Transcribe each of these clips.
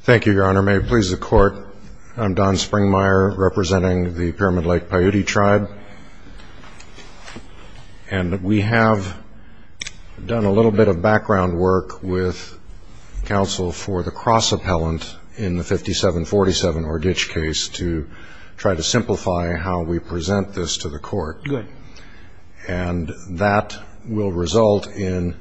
Thank you, Your Honor. May it please the Court, I'm Don Springmeyer, representing the Pyramid Lake Paiute Tribe. And we have done a little bit of background work with counsel for the cross-appellant in the 5747 Orgich case to try to simplify how we present this to the Court. And that will result in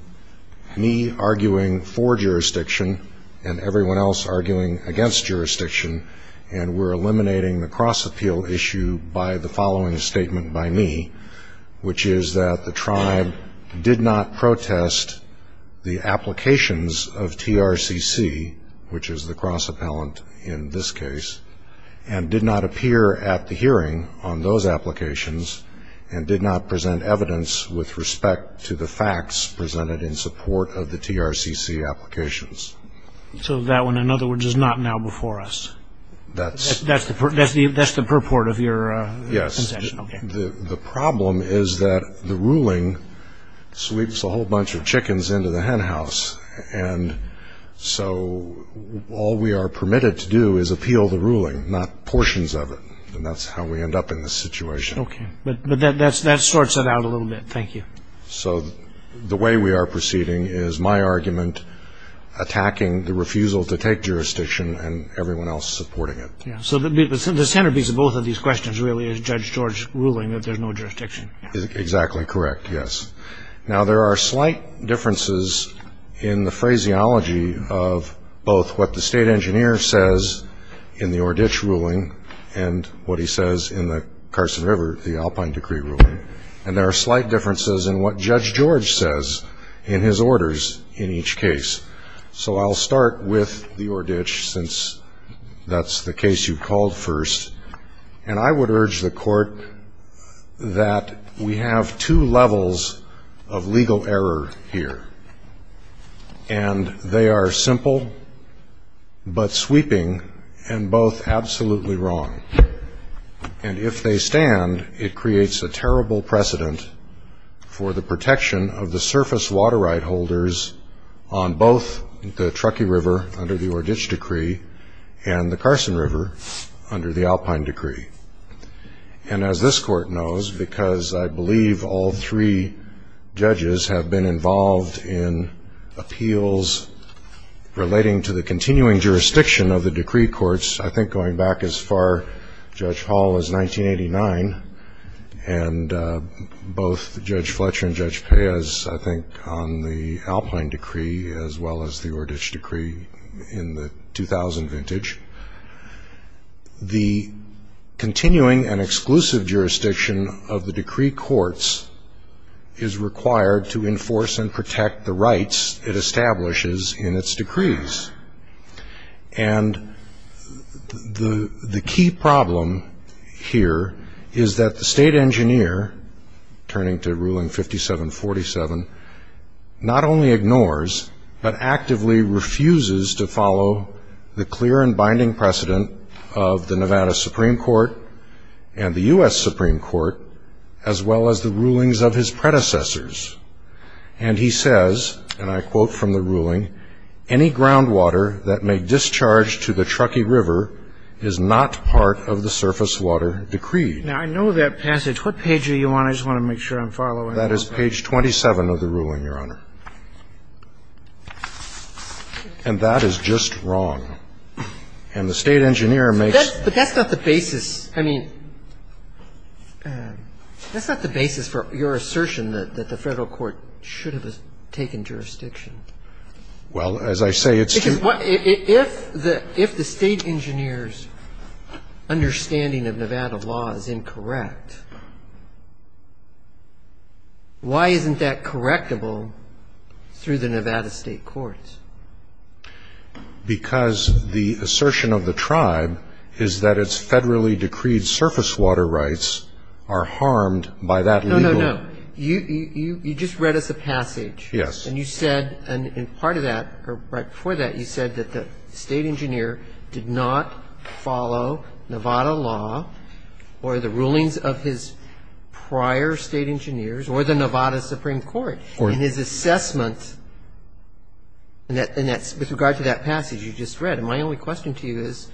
me arguing for jurisdiction and everyone else arguing against jurisdiction, and we're eliminating the cross-appeal issue by the following statement by me, which is that the Tribe did not protest the applications of TRCC, which is the cross-appellant in this case, and did not appear at the hearing on those applications, and did not present evidence with respect to the facts presented in support of the TRCC applications. So that one, in other words, is not now before us? That's the purport of your consent? Yes. The problem is that the ruling sweeps a whole bunch of chickens into the henhouse, and so all we are permitted to do is appeal the ruling, not portions of it. And that's how we end up in this situation. Okay. But that sorts it out a little bit, thank you. So the way we are proceeding is my argument attacking the refusal to take jurisdiction and everyone else supporting it. So the centerpiece of both of these questions really is Judge George ruling that there's no jurisdiction. Exactly correct, yes. Now, there are slight differences in the phraseology of both what the State Engineer says in the Ordich ruling and what he says in the Carson River, the Alpine Decree ruling. And there are slight differences in what Judge George says in his orders in each case. So I'll start with the Ordich, since that's the case you called first. And I would urge the Court that we have two levels of legal error here. And they are simple but sweeping and both absolutely wrong. And if they stand, it creates a terrible precedent for the protection of the surface water right holders on both the Truckee River under the Ordich Decree and the Carson River under the Alpine Decree. And as this Court knows, because I believe all three judges have been involved in appeals relating to the continuing jurisdiction of the decree courts, I think going back as far, Judge Hall, as 1989, and both Judge Fletcher and Judge Pez, I think on the Alpine Decree as well as the Ordich Decree in the 2000 vintage, the continuing and exclusive jurisdiction of the decree courts is required to enforce and protect the rights it establishes in its decrees. And the key problem here is that the state engineer, turning to Ruling 5747, not only ignores but actively refuses to follow the clear and binding precedent of the Nevada Supreme Court and the U.S. Supreme Court as well as the rulings of his predecessors. And he says, and I quote from the ruling, any groundwater that may discharge to the Truckee River is not part of the surface water decreed. Now, I know that passage. What page are you on? I just want to make sure I'm following. That is page 27 of the ruling, Your Honor. And that is just wrong. And the state engineer makes... But that's not the basis. I mean, that's not the basis for your assertion that the federal court should have taken jurisdiction. Well, as I say, it's... If the state engineer's understanding of Nevada law is incorrect, why isn't that correctable through the Nevada state courts? Because the assertion of the tribe is that it's federally decreed surface water rights are harmed by that legal... No, no, no. You just read us a passage. Yes. And you said, and part of that, or right before that, you said that the state engineer did not follow Nevada law or the rulings of his prior state engineers or the Nevada Supreme Court. And his assessment with regard to that passage you just read. And my only question to you is,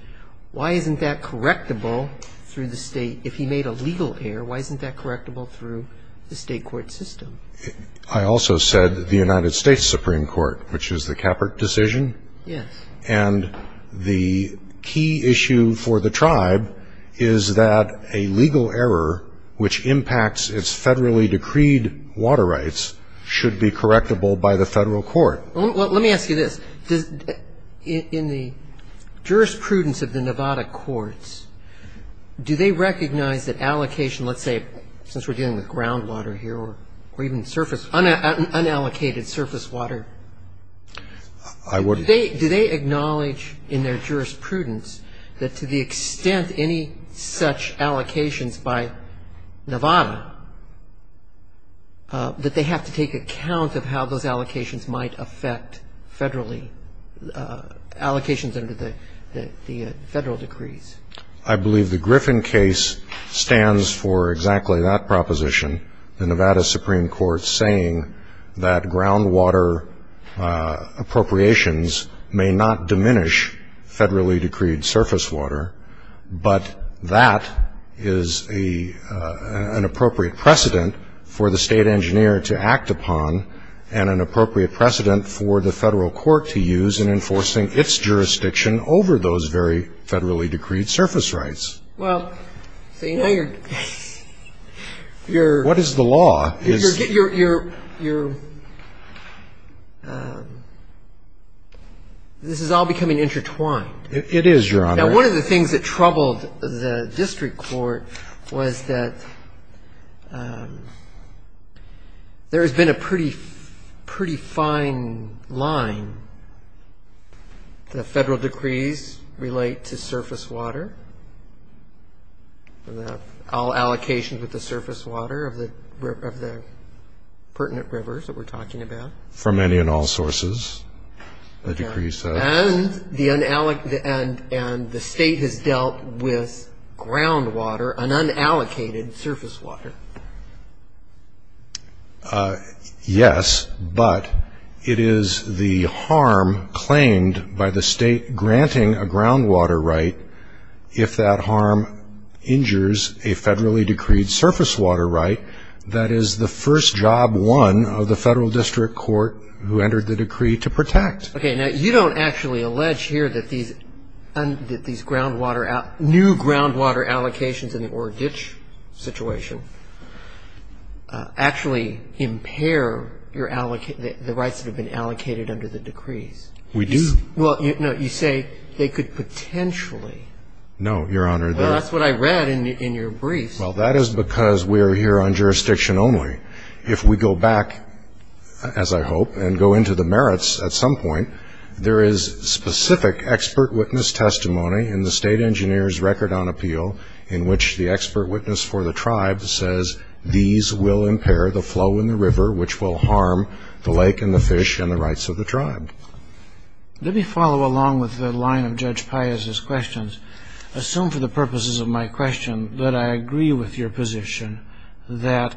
why isn't that correctable through the state? If he made a legal error, why isn't that correctable through the state court system? I also said the United States Supreme Court, which is the Capert decision. Yes. And the key issue for the tribe is that a legal error which impacts its federally decreed water rights should be correctable by the federal court. Well, let me ask you this. In the jurisprudence of the Nevada courts, do they recognize that allocation, let's say since we're dealing with groundwater here or even surface, unallocated surface water? I wouldn't... Do they acknowledge in their jurisprudence that to the extent any such allocations by Nevada, that they have to take account of how those allocations might affect federally, allocations under the federal decrees? I believe the Griffin case stands for exactly that proposition. The Nevada Supreme Court saying that groundwater appropriations may not diminish federally decreed surface water, but that is an appropriate precedent for the state engineer to act upon and an appropriate precedent for the federal court to use in enforcing its jurisdiction over those very federally decreed surface rights. Well, you know, you're... What is the law? You're... This is all becoming intertwined. It is, Your Honor. Now, one of the things that troubled the district court was that there has been a pretty fine line. The federal decrees relate to surface water, all allocations with the surface water of the pertinent rivers that we're talking about. For many and all sources, the decree says. And the state has dealt with groundwater, an unallocated surface water. Yes, but it is the harm claimed by the state granting a groundwater right if that harm injures a federally decreed surface water right. That is the first job won of the federal district court who entered the decree to protect. Okay. Now, you don't actually allege here that these new groundwater allocations in the Oro Ditch situation actually impair the rights that have been allocated under the decree. We do. Well, no, you say they could potentially. No, Your Honor. Well, that's what I read in your brief. Well, that is because we are here on jurisdiction only. If we go back, as I hope, and go into the merits at some point, there is specific expert witness testimony in the state engineer's record on appeal in which the expert witness for the tribe says these will impair the flow in the river which will harm the lake and the fish and the rights of the tribe. Let me follow along with the line of Judge Pius's questions. Assume for the purposes of my question that I agree with your position that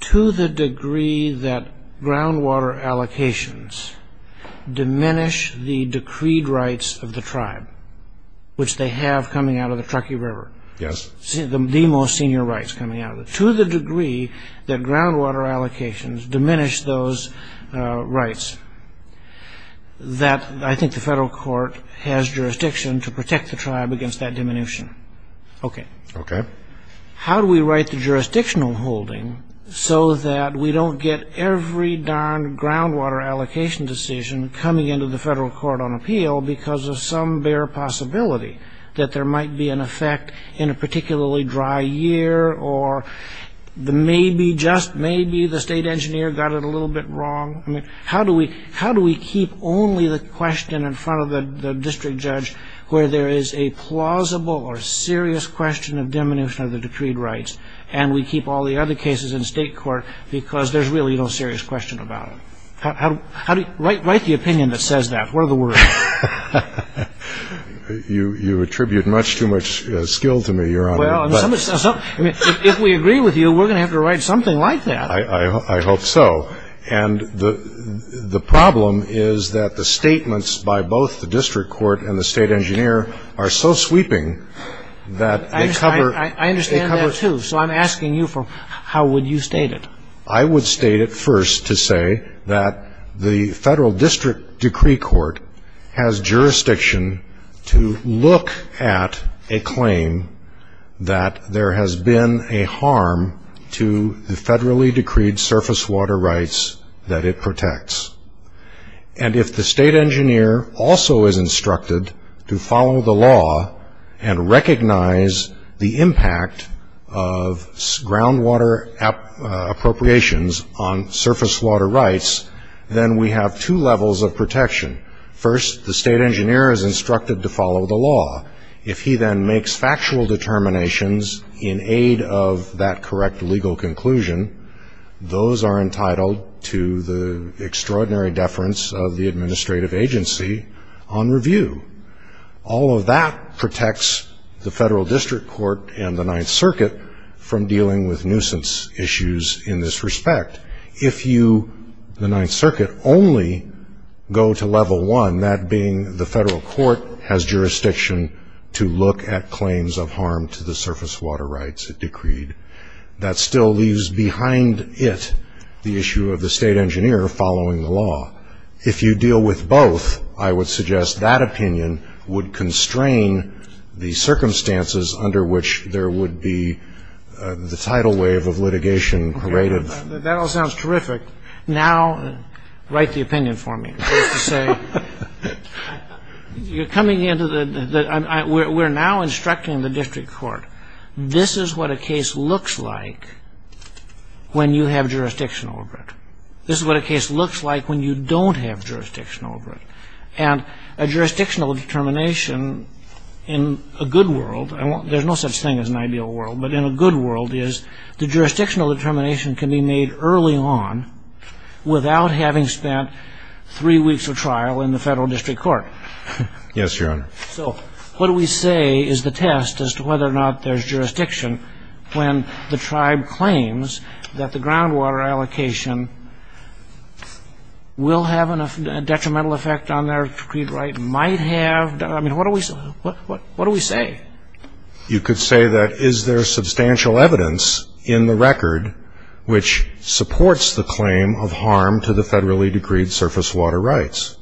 to the degree that groundwater allocations diminish the decreed rights of the tribe, which they have coming out of the Truckee River, the most senior rights coming out of it, to the degree that groundwater allocations diminish those rights, that I think the federal court has jurisdiction to protect the tribe against that diminution. Okay. Okay. How do we write the jurisdictional holding so that we don't get every darn groundwater allocation decision coming into the federal court on appeal because of some bare possibility that there might be an effect in a particularly dry year or maybe just maybe the state engineer got it a little bit wrong? I mean, how do we keep only the question in front of the district judge where there is a plausible or serious question of diminution of the decreed rights and we keep all the other cases in state court because there's really no serious question about it? Write the opinion that says that. What are the words? You attribute much too much skill to me, Your Honor. If we agree with you, we're going to have to write something like that. I hope so. And the problem is that the statements by both the district court and the state engineer are so sweeping that they cover... I understand that too. So I'm asking you, how would you state it? I would state it first to say that the federal district decree court has jurisdiction to look at a claim that there has been a harm to the federally decreed surface water rights that it protects. And if the state engineer also is instructed to follow the law and recognize the impact of groundwater appropriations on surface water rights, then we have two levels of protection. First, the state engineer is instructed to follow the law. If he then makes factual determinations in aid of that correct legal conclusion, those are entitled to the extraordinary deference of the administrative agency on review. All of that protects the federal district court and the Ninth Circuit from dealing with nuisance issues in this respect. If you, the Ninth Circuit, only go to level one, that being the federal court has jurisdiction to look at claims of harm to the surface water rights it decreed, that still leaves behind it the issue of the state engineer following the law. If you deal with both, I would suggest that opinion would constrain the circumstances under which there would be the tidal wave of litigation created. That all sounds terrific. Now write the opinion for me. We're now instructing the district court, this is what a case looks like when you have jurisdictional over it. This is what a case looks like when you don't have jurisdictional over it. And a jurisdictional determination in a good world, there's no such thing as an ideal world, but in a good world is the jurisdictional determination can be made early on without having spent three weeks of trial in the federal district court. Yes, Your Honor. So what do we say is the test as to whether or not there's jurisdiction when the tribe claims that the groundwater allocation will have a detrimental effect on their decreed right, might have? I mean, what do we say? You could say that is there substantial evidence in the record which supports the claim of harm to the federally decreed surface water rights?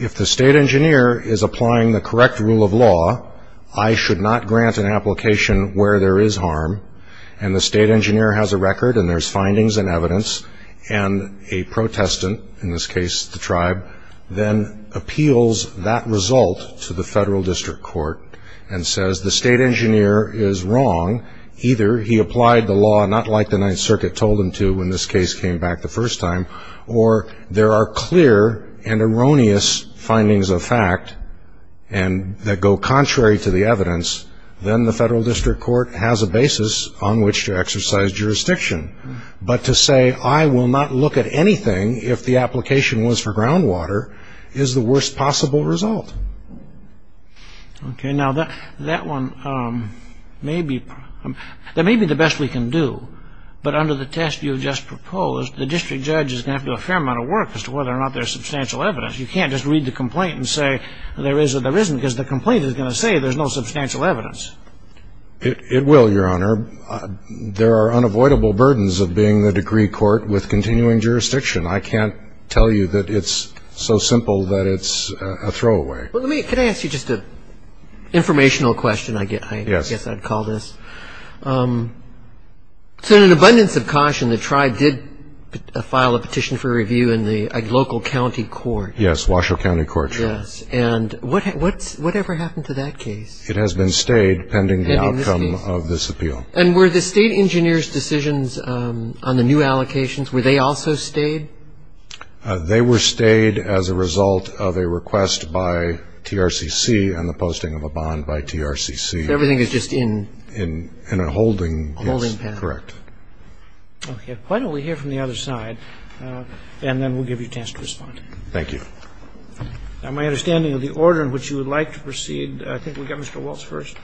If the state engineer is applying the correct rule of law, I should not grant an application where there is harm, and the state engineer has a record and there's findings and evidence, and a protestant, in this case the tribe, then appeals that result to the federal district court and says the state engineer is wrong, either he applied the law not like the Ninth Circuit told him to when this case came back the first time, or there are clear and erroneous findings of fact that go contrary to the evidence, then the federal district court has a basis on which to exercise jurisdiction. But to say I will not look at anything if the application was for groundwater is the worst possible result. Okay. Now, that one may be the best we can do, but under the test you just proposed, the district judge is going to have to do a fair amount of work as to whether or not there's substantial evidence. You can't just read the complaint and say there is or there isn't, because the complaint is going to say there's no substantial evidence. It will, Your Honor. There are unavoidable burdens of being the decree court with continuing jurisdiction. I can't tell you that it's so simple that it's a throwaway. Well, let me, can I ask you just an informational question, I guess I'd call this? Yes. So in an abundance of caution, the tribe did file a petition for review in the local county court. Yes, Washoe County Court, Your Honor. Yes, and what ever happened to that case? It has been stayed pending the outcome of this appeal. And were the state engineer's decisions on the new allocations, were they also stayed? They were stayed as a result of a request by TRCC and the posting of a bond by TRCC. Everything is just in? In a holding, yes. A holding pen. Correct. Okay. Why don't we hear from the other side, and then we'll give you a chance to respond. Thank you. On my understanding of the order in which you would like to proceed, I think we've got Mr. Waltz first.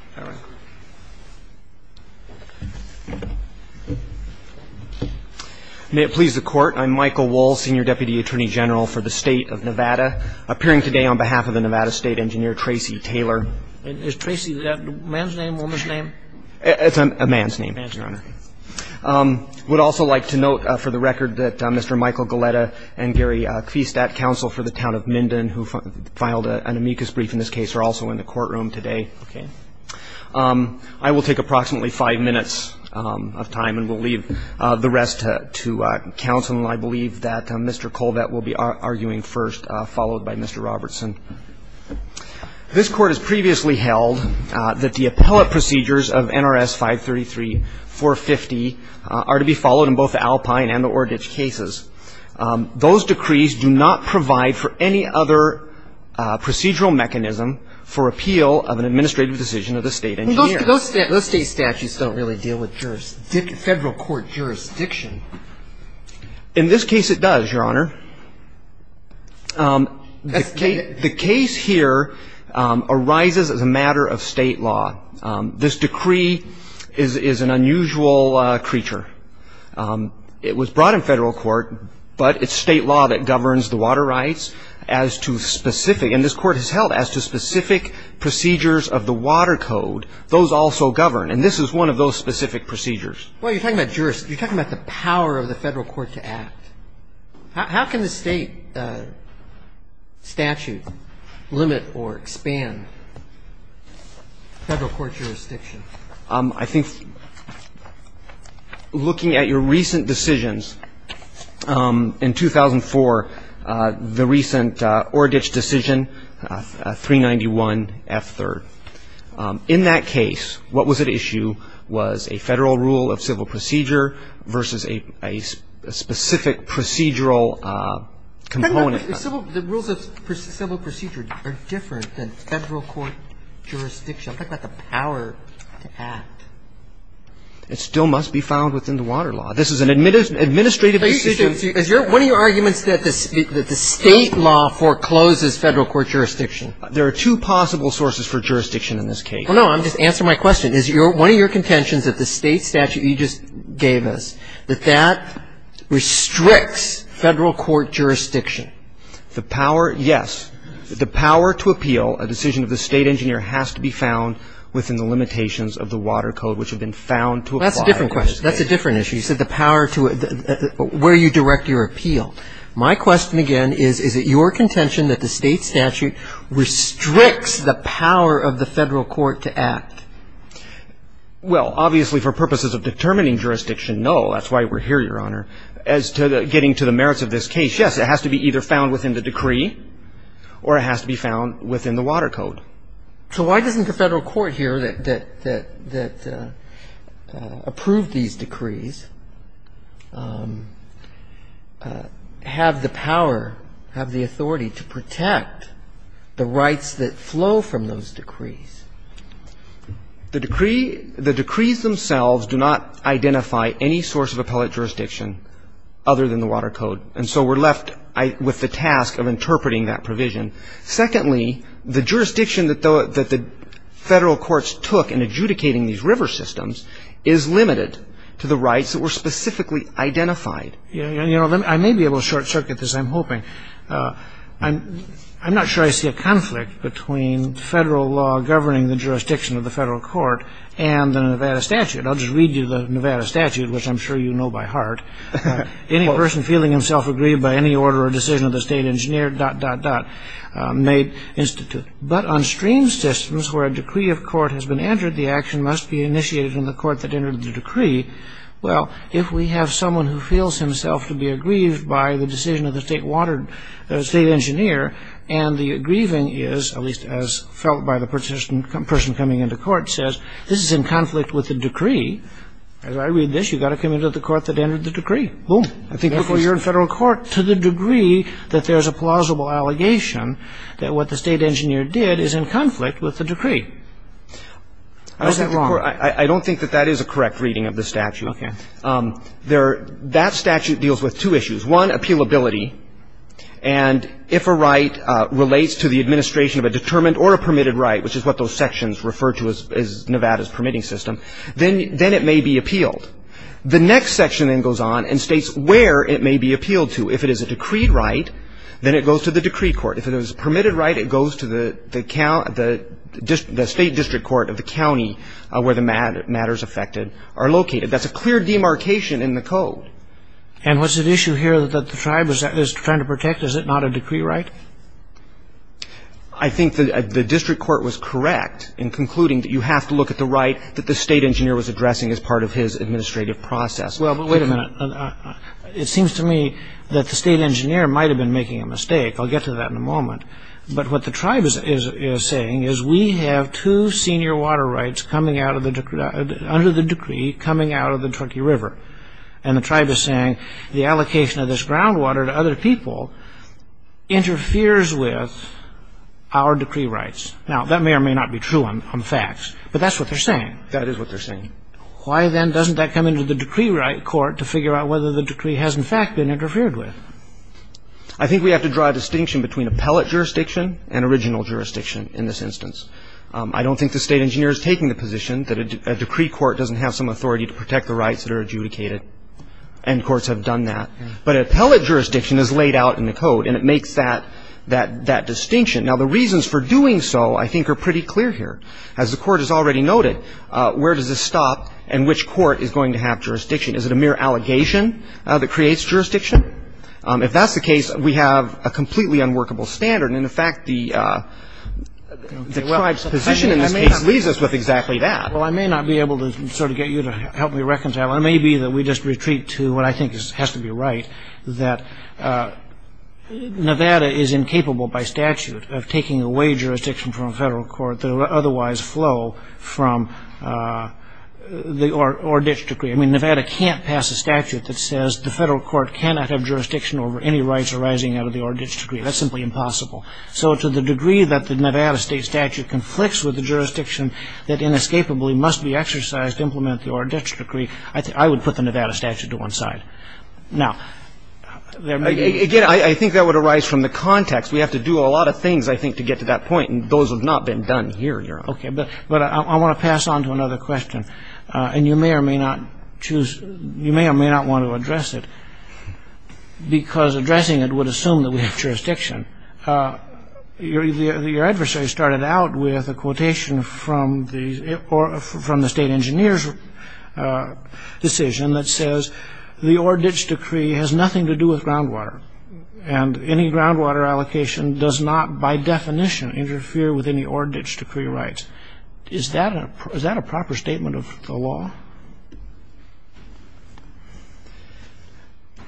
May it please the court, I'm Michael Waltz, Senior Deputy Attorney General for the State of Nevada, appearing today on behalf of the Nevada State Engineer, Tracy Taylor. Is Tracy, is that a man's name or a woman's name? I would also like to note for the record that Mr. Michael Goleta and Gary Kvistat, counsel for the town of Minden, who filed an amicus brief in this case, are also in the courtroom today. Okay. I will take approximately five minutes of time and will leave the rest to counsel. And I believe that Mr. Colvett will be arguing first, followed by Mr. Robertson. This court has previously held that the appellate procedures of NRS 533-450 are to be followed in both the Alpine and the Oradich cases. Those decrees do not provide for any other procedural mechanism for appeal of an administrative decision of the state engineer. Those state statutes don't really deal with federal court jurisdiction. In this case, it does, Your Honor. The case here arises as a matter of state law. This decree is an unusual creature. It was brought in federal court, but it's state law that governs the water rights as to specific, and this court has held as to specific procedures of the water code. Those also govern. And this is one of those specific procedures. Well, you're talking about jurisdiction. You're talking about the power of the federal court to act. How can the state statute limit or expand federal court jurisdiction? I think looking at your recent decisions, in 2004, the recent Oradich decision, 391F3rd. In that case, what was at issue was a federal rule of civil procedure versus a specific procedural component. The rules of civil procedure are different than federal court jurisdiction. That's not the power to act. It still must be found within the water law. This is an administrative decision. One of your arguments is that the state law forecloses federal court jurisdiction. There are two possible sources for jurisdiction in this case. Well, no. I'm just answering my question. My question, again, is one of your contentions that the state statute you just gave us, that that restricts federal court jurisdiction. The power, yes. The power to appeal a decision of the state engineer has to be found within the limitations of the water code, which have been found to apply. That's a different question. That's a different issue. You said the power to where you direct your appeal. My question, again, is, is it your contention that the state statute restricts the power of the federal court to act? Well, obviously, for purposes of determining jurisdiction, no. That's why we're here, Your Honor. As to getting to the merits of this case, yes, it has to be either found within the decree or it has to be found within the water code. So why doesn't the federal court here that approved these decrees have the power, have the authority, to protect the rights that flow from those decrees? The decrees themselves do not identify any source of appellate jurisdiction other than the water code. And so we're left with the task of interpreting that provision. Secondly, the jurisdiction that the federal courts took in adjudicating these river systems is limited to the rights that were specifically identified. Your Honor, I may be able to short circuit this. I'm hoping. I'm not sure I see a conflict between federal law governing the jurisdiction of the federal court and the Nevada statute. I'll just read you the Nevada statute, which I'm sure you know by heart. Any person feeling himself aggrieved by any order or decision of the state engineer, dot, dot, dot, may institute. But on stream systems where a decree of court has been entered, the action must be initiated in the court that entered the decree. Well, if we have someone who feels himself to be aggrieved by the decision of the state engineer and the aggrieving is, at least as felt by the person coming into court, says this is in conflict with the decree. As I read this, you've got to come into the court that entered the decree. I think before you're in federal court to the degree that there's a plausible allegation that what the state engineer did is in conflict with the decree. I don't think that that is a correct reading of the statute. That statute deals with two issues. One, appealability. And if a right relates to the administration of a determined or a permitted right, which is what those sections refer to as Nevada's permitting system, then it may be appealed. The next section then goes on and states where it may be appealed to. If it is a decreed right, then it goes to the decree court. If it is a permitted right, it goes to the state district court of the county where the matters affected are located. That's a clear demarcation in the code. And what's at issue here that the tribe is trying to protect? Is it not a decree right? I think the district court was correct in concluding that you have to look at the right that the state engineer was addressing as part of his administrative process. Well, but wait a minute. It seems to me that the state engineer might have been making a mistake. I'll get to that in a moment. But what the tribe is saying is we have two senior water rights under the decree coming out of the Truckee River. And the tribe is saying the allocation of this groundwater to other people interferes with our decree rights. Now, that may or may not be true on facts, but that's what they're saying. That is what they're saying. Why, then, doesn't that come into the decree right court to figure out whether the decree has, in fact, been interfered with? I think we have to draw a distinction between appellate jurisdiction and original jurisdiction in this instance. I don't think the state engineer is taking the position that a decree court doesn't have some authority to protect the rights that are adjudicated. And courts have done that. But appellate jurisdiction is laid out in the code, and it makes that distinction. Now, the reasons for doing so, I think, are pretty clear here. As the court has already noted, where does this stop and which court is going to have jurisdiction? Is it a mere allegation that creates jurisdiction? If that's the case, we have a completely unworkable standard. And, in fact, the tribe's position in this case leaves us with exactly that. Well, I may not be able to sort of get you to help me reconcile. It may be that we just retreat to what I think has to be right, that Nevada is incapable, by statute, of taking away jurisdiction from a federal court that would otherwise flow from the Orr-Ditch decree. I mean, Nevada can't pass a statute that says the federal court cannot have jurisdiction over any rights arising out of the Orr-Ditch decree. That's simply impossible. So to the degree that the Nevada state statute conflicts with the jurisdiction that inescapably must be exercised, implemented through Orr-Ditch decree, I would put the Nevada statute to one side. Now, again, I think that would arise from the context. We have to do a lot of things, I think, to get to that point, and those have not been done here, Your Honor. Okay. But I want to pass on to another question. And you may or may not want to address it because addressing it would assume that we have jurisdiction. Your adversary started out with a quotation from the state engineer's decision that says, the Orr-Ditch decree has nothing to do with groundwater, and any groundwater allocation does not, by definition, interfere with any Orr-Ditch decree rights. Is that a proper statement of the law?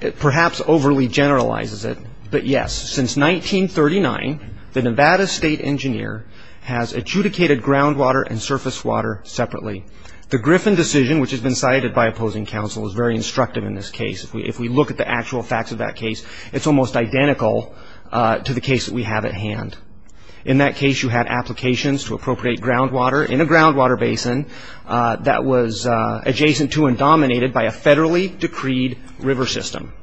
It perhaps overly generalizes it, but yes. Since 1939, the Nevada state engineer has adjudicated groundwater and surface water separately. The Griffin decision, which has been cited by opposing counsel, is very instructive in this case. If we look at the actual facts of that case, it's almost identical to the case that we have at hand. In that case, you had applications to appropriate groundwater in a groundwater basin that was adjacent to and dominated by a federally decreed river system.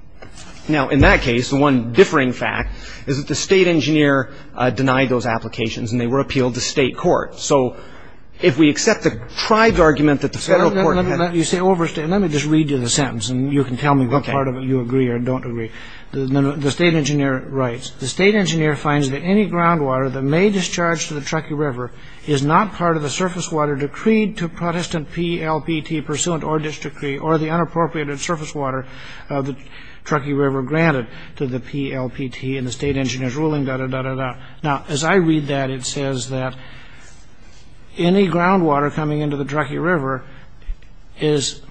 Now, in that case, the one differing fact is that the state engineer denied those applications, and they were appealed to state court. So if we accept the tribe's argument that the federal court has... Let me just read you the sentence, and you can tell me what part of it you agree or don't agree. The state engineer writes, The state engineer finds that any groundwater that may discharge to the Truckee River is not part of the surface water decreed to Protestant PLPT pursuant Orr-Ditch decree or the unappropriated surface water of the Truckee River granted to the PLPT. And the state engineer's ruling, da-da-da-da-da. Now, as I read that, it says that any groundwater coming into the Truckee River is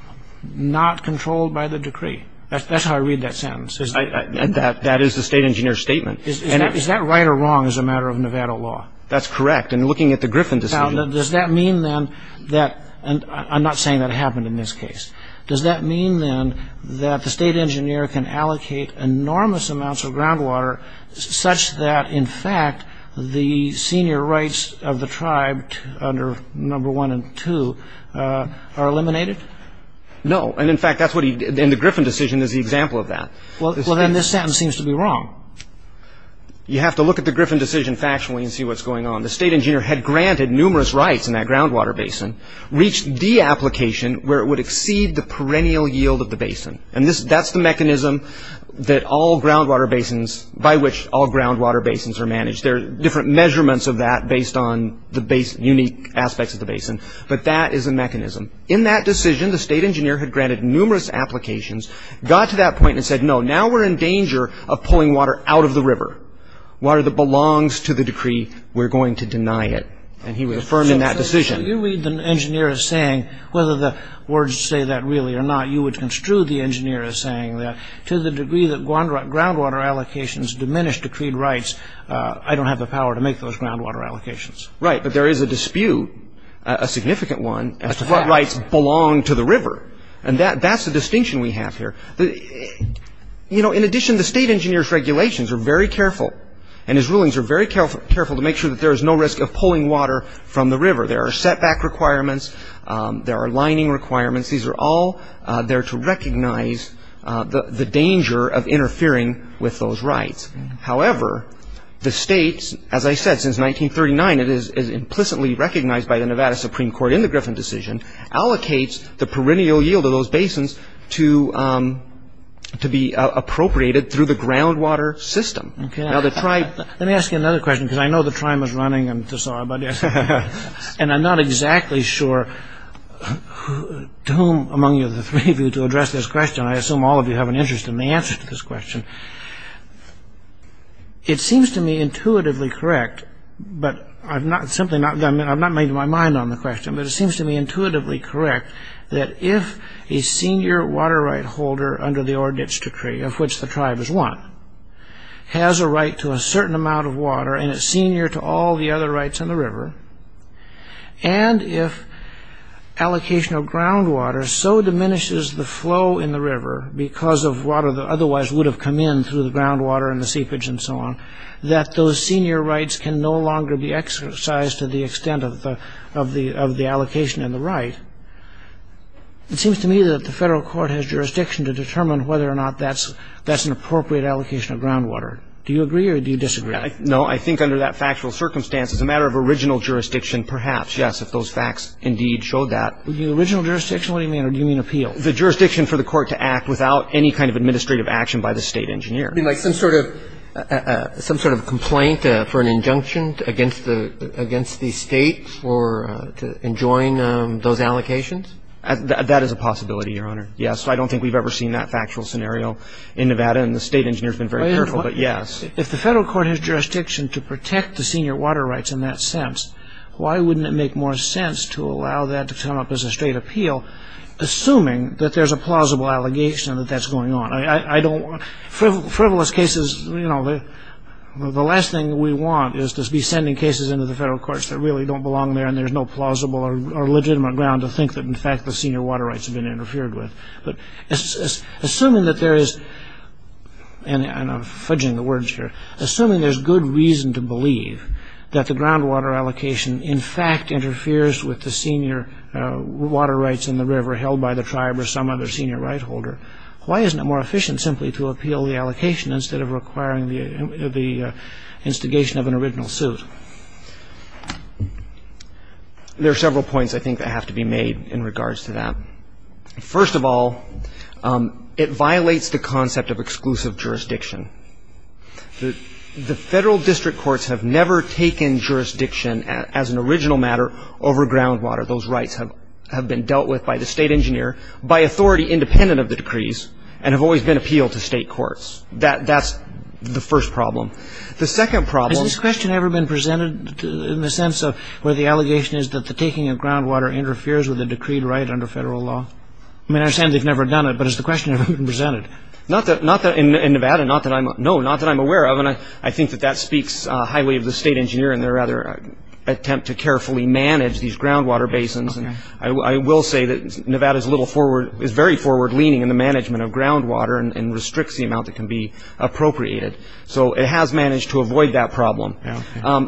not controlled by the decree. That's how I read that sentence. That is the state engineer's statement. Is that right or wrong as a matter of Nevada law? That's correct, and looking at the Griffin decision... Now, does that mean, then, that... I'm not saying that happened in this case. Does that mean, then, that the state engineer can allocate enormous amounts of groundwater such that, in fact, the senior rights of the tribe under number one and two are eliminated? No, and, in fact, that's what he... And the Griffin decision is the example of that. Well, then, this sentence seems to be wrong. You have to look at the Griffin decision factually and see what's going on. The state engineer had granted numerous rights in that groundwater basin, reached the application where it would exceed the perennial yield of the basin. And that's the mechanism that all groundwater basins... by which all groundwater basins are managed. There are different measurements of that based on the unique aspects of the basin, but that is the mechanism. In that decision, the state engineer had granted numerous applications, got to that point and said, no, now we're in danger of pulling water out of the river, water that belongs to the decree. We're going to deny it. And he was affirmed in that decision. The engineer is saying, whether the words say that really or not, you would construe the engineer as saying that, to the degree that groundwater allocations diminish decreed rights, I don't have the power to make those groundwater allocations. Right, but there is a dispute, a significant one, as to what rights belong to the river. And that's the distinction we have here. In addition, the state engineer's regulations are very careful, and his rulings are very careful to make sure that there is no risk of pulling water from the river. There are setback requirements. There are lining requirements. These are all there to recognize the danger of interfering with those rights. However, the state, as I said, since 1939, it is implicitly recognized by the Nevada Supreme Court in the Griffin decision, allocates the perennial yield of those basins to be appropriated through the groundwater system. Let me ask you another question, because I know the time is running, and I'm not exactly sure to whom among you to address this question. I assume all of you have an interest in the answer to this question. It seems to me intuitively correct, but I've not made my mind on the question, but it seems to me intuitively correct that if a senior water right holder under the Ordnance Decree, of which the tribe is one, has a right to a certain amount of water, and it's senior to all the other rights in the river, and if allocation of groundwater so diminishes the flow in the river because of water that otherwise would have come in through the groundwater and the seepage and so on, that those senior rights can no longer be exercised to the extent of the allocation and the right, it seems to me that the federal court has jurisdiction to determine whether or not that's an appropriate allocation of groundwater. Do you agree or do you disagree? No, I think under that factual circumstance, it's a matter of original jurisdiction perhaps, yes, if those facts indeed showed that. The original jurisdiction? What do you mean? Or do you mean appeal? The jurisdiction for the court to act without any kind of administrative action by the state engineer. You mean like some sort of complaint for an injunction against the states for enjoying those allocations? That is a possibility, Your Honor. Yes, I don't think we've ever seen that factual scenario in Nevada, and the state engineer has been very careful, but yes. If the federal court has jurisdiction to protect the senior water rights in that sense, why wouldn't it make more sense to allow that to come up as a straight appeal assuming that there's a plausible allegation that that's going on? Frivolous cases, you know, the last thing we want is to be sending cases into the federal courts that really don't belong there and there's no plausible or legitimate ground to think that in fact the senior water rights have been interfered with. Assuming that there is, and I'm fudging the words here, assuming there's good reason to believe that the groundwater allocation in fact interferes with the senior water rights in the river held by the tribe or some other senior right holder, why isn't it more efficient simply to appeal the allocation instead of requiring the instigation of an original suit? There are several points I think that have to be made in regards to that. First of all, it violates the concept of exclusive jurisdiction. The federal district courts have never taken jurisdiction as an original matter over groundwater. Those rights have been dealt with by the state engineer by authority independent of the decrees and have always been appealed to state courts. That's the first problem. The second problem... Has this question ever been presented in the sense of where the allegation is that the taking of groundwater interferes with the decreed right under federal law? I mean, I understand they've never done it, but has the question ever been presented? Not that in Nevada, no, not that I'm aware of, and I think that that speaks highly of the state engineer and their attempt to carefully manage these groundwater basins. I will say that Nevada is very forward leaning in the management of groundwater and restricts the amount that can be appropriated. So it has managed to avoid that problem.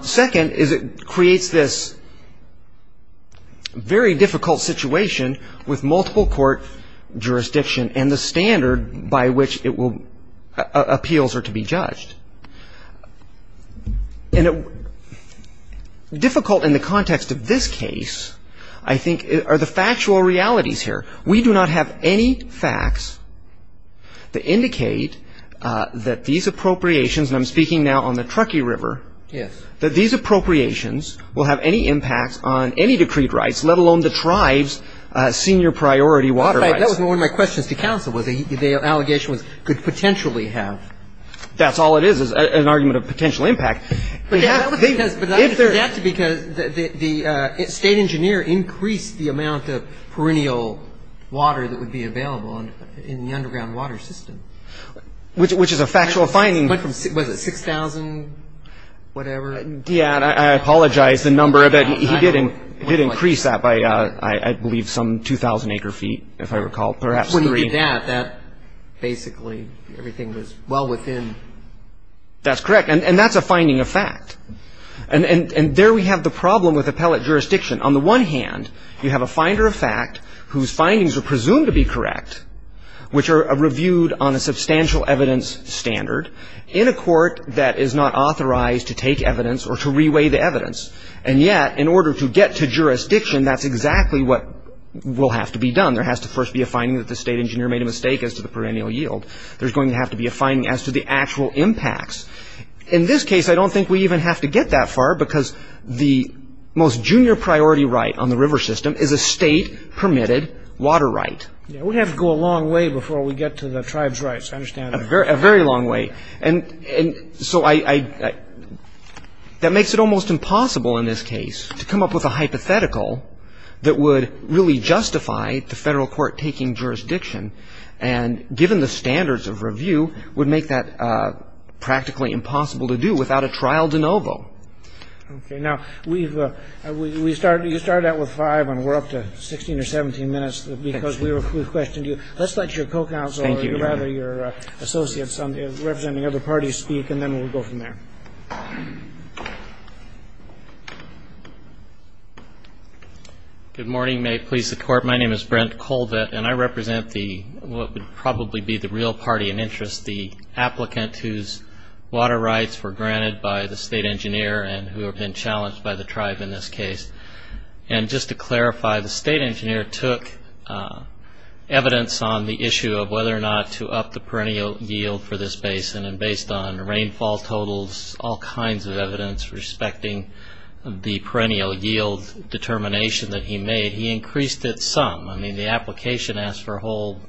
Second is it creates this very difficult situation with multiple court jurisdiction and the standard by which appeals are to be judged. And difficult in the context of this case, I think, are the factual realities here. We do not have any facts that indicate that these appropriations, and I'm speaking now on the Truckee River, that these appropriations will have any impact on any decreed rights, let alone the tribe's senior priority water rights. That was one of my questions to counsel, whether the allegation could potentially have... That's all it is, an argument of potential impact. But that's because the state engineer increased the amount of perennial water that would be available in the underground water system. Which is a factual finding. Was it 6,000, whatever? Yeah, I apologize, the number of it, he did increase that by, I believe, some 2,000 acre feet, if I recall, perhaps 3. If you increase that, that's basically everything that's well within... That's correct, and that's a finding of fact. And there we have the problem with appellate jurisdiction. On the one hand, you have a finder of fact whose findings are presumed to be correct, which are reviewed on a substantial evidence standard, in a court that is not authorized to take evidence or to re-weigh the evidence. And yet, in order to get to jurisdiction, that's exactly what will have to be done. There has to first be a finding that the state engineer made a mistake as to the perennial yield. There's going to have to be a finding as to the actual impacts. In this case, I don't think we even have to get that far because the most junior priority right on the river system is a state-permitted water right. We have to go a long way before we get to the tribes' rights, I understand. A very long way. And so I... That makes it almost impossible in this case to come up with a hypothetical that would really justify the federal court taking jurisdiction and, given the standards of review, would make that practically impossible to do without a trial de novo. Okay, now, we've... You started out with five, and we're up to 16 or 17 minutes because we've questioned you. Let's let your co-counsel or your associates representing other parties speak, and then we'll go from there. Good morning. May it please the Court. My name is Brent Colbett, and I represent the... what would probably be the real party in interest, the applicant whose water rights were granted by the state engineer and who have been challenged by the tribe in this case. And just to clarify, the state engineer took evidence on the issue of whether or not to up the perennial yield for this basin based on rainfall totals, all kinds of evidence respecting the perennial yield determination that he made, he increased it some. I mean, the application asked for a whole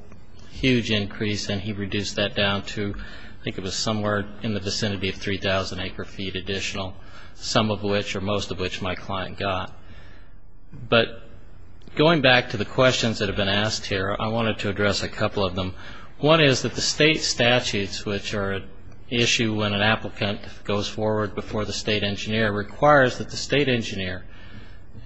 huge increase, and he reduced that down to... I think it was somewhere in the vicinity of 3,000 acre-feet additional, some of which or most of which my client got. But going back to the questions that have been asked here, I wanted to address a couple of them. One is that the state statutes, which are an issue when an applicant goes forward before the state engineer, requires that the state engineer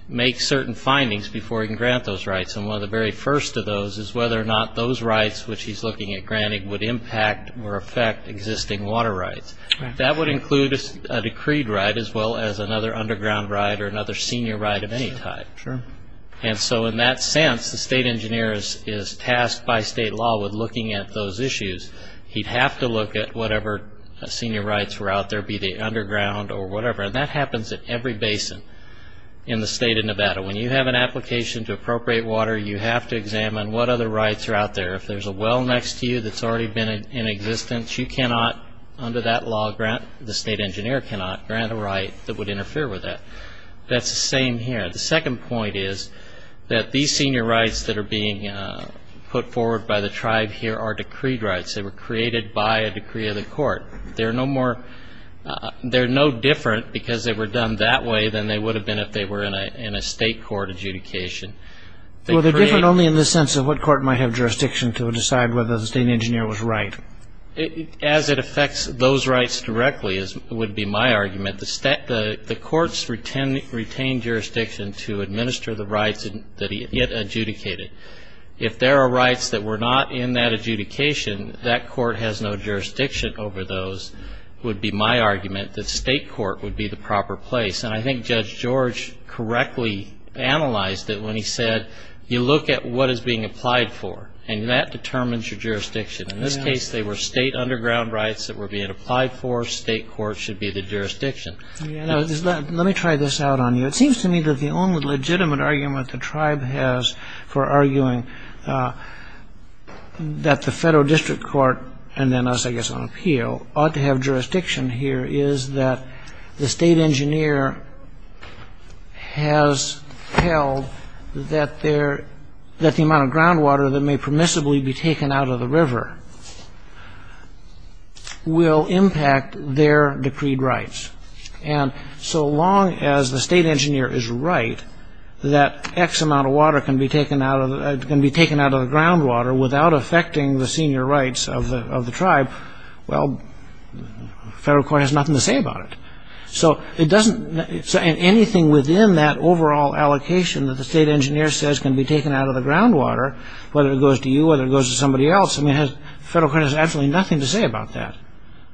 make certain findings before he can grant those rights. And one of the very first of those is whether or not those rights which he's looking at granting would impact or affect existing water rights. That would include a decreed right as well as another underground right or another senior right of any type. And so in that sense, the state engineer is tasked by state law with looking at those issues. He'd have to look at whatever senior rights were out there, whether it be the underground or whatever. And that happens at every basin in the state of Nevada. When you have an application to appropriate water, you have to examine what other rights are out there. If there's a well next to you that's already been in existence, you cannot, under that law, grant... the state engineer cannot grant a right that would interfere with that. That's the same here. The second point is that these senior rights that are being put forward by the tribe here are decreed rights. They were created by a decree of the court. They're no more... They're no different because they were done that way than they would have been if they were in a state court adjudication. Well, they're different only in the sense of what court might have jurisdiction to decide whether the state engineer was right. As it affects those rights directly, would be my argument, the courts retain jurisdiction to administer the rights that he had adjudicated. If there are rights that were not in that adjudication, that court has no jurisdiction over those, would be my argument that state court would be the proper place. And I think Judge George correctly analyzed it when he said, you look at what is being applied for, and that determines your jurisdiction. In this case, they were state underground rights that were being applied for. State court should be the jurisdiction. Let me try this out on you. It seems to me that the only legitimate argument the tribe has for arguing that the federal district court, and then us, I guess, on appeal, ought to have jurisdiction here is that the state engineer has held that the amount of groundwater that may permissibly be taken out of the river will impact their decreed rights. And so long as the state engineer is right, that X amount of water can be taken out of the groundwater without affecting the senior rights of the tribe, well, federal court has nothing to say about it. So it doesn't, anything within that overall allocation that the state engineer says can be taken out of the groundwater, whether it goes to you, whether it goes to somebody else, the federal court has absolutely nothing to say about that.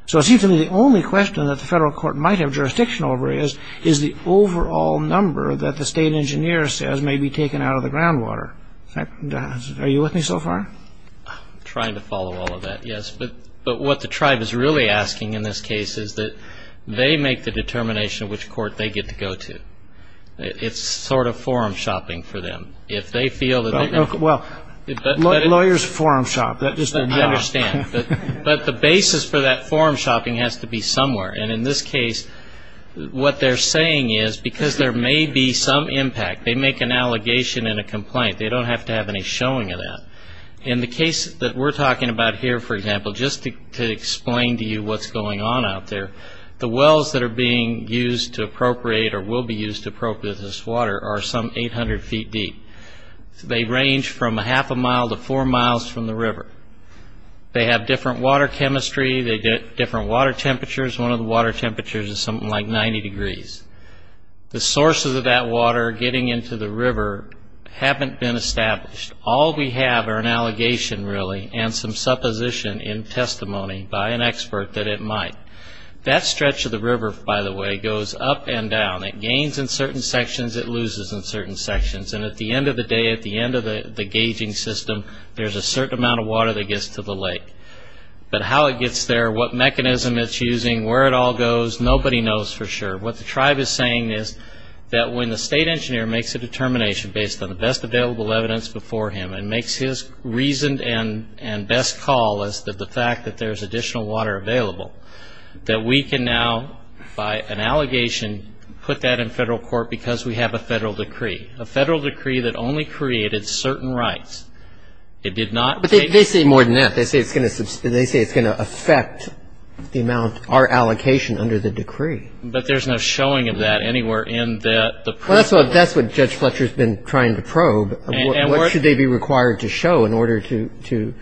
So it seems to me the only question that the federal court might have jurisdiction over is the overall number that the state engineer says may be taken out of the groundwater. Are you with me so far? I'm trying to follow all of that, yes. But what the tribe is really asking in this case is that they make the determination of which court they get to go to. It's sort of forum shopping for them. If they feel that... Well, lawyers forum shop. I understand. But the basis for that forum shopping has to be somewhere. And in this case, what they're saying is, because there may be some impact, they make an allegation and a complaint. They don't have to have any showing of that. In the case that we're talking about here, for example, just to explain to you what's going on out there, the wells that are being used to appropriate or will be used to appropriate this water are some 800 feet deep. They range from a half a mile to four miles from the river. They have different water chemistry. They get different water temperatures. One of the water temperatures is something like 90 degrees. The sources of that water getting into the river haven't been established. All we have are an allegation, really, and some supposition in testimony by an expert that it might. That stretch of the river, by the way, goes up and down. It gains in certain sections. It loses in certain sections. And at the end of the day, at the end of the gauging system, there's a certain amount of water that gets to the lake. But how it gets there, what mechanism it's using, where it all goes, nobody knows for sure. What the tribe is saying is that when the state engineer makes a determination based on the best available evidence before him and makes his reasoned and best call as to the fact that there's additional water available, that we can now, by an allegation, put that in federal court because we have a federal decree, a federal decree that only created certain rights. It did not... But they say more than that. They say it's going to affect the amount, our allocation under the decree. But there's no showing of that anywhere in the... Well, that's what Judge Fletcher's been trying to probe. What should they be required to show in order to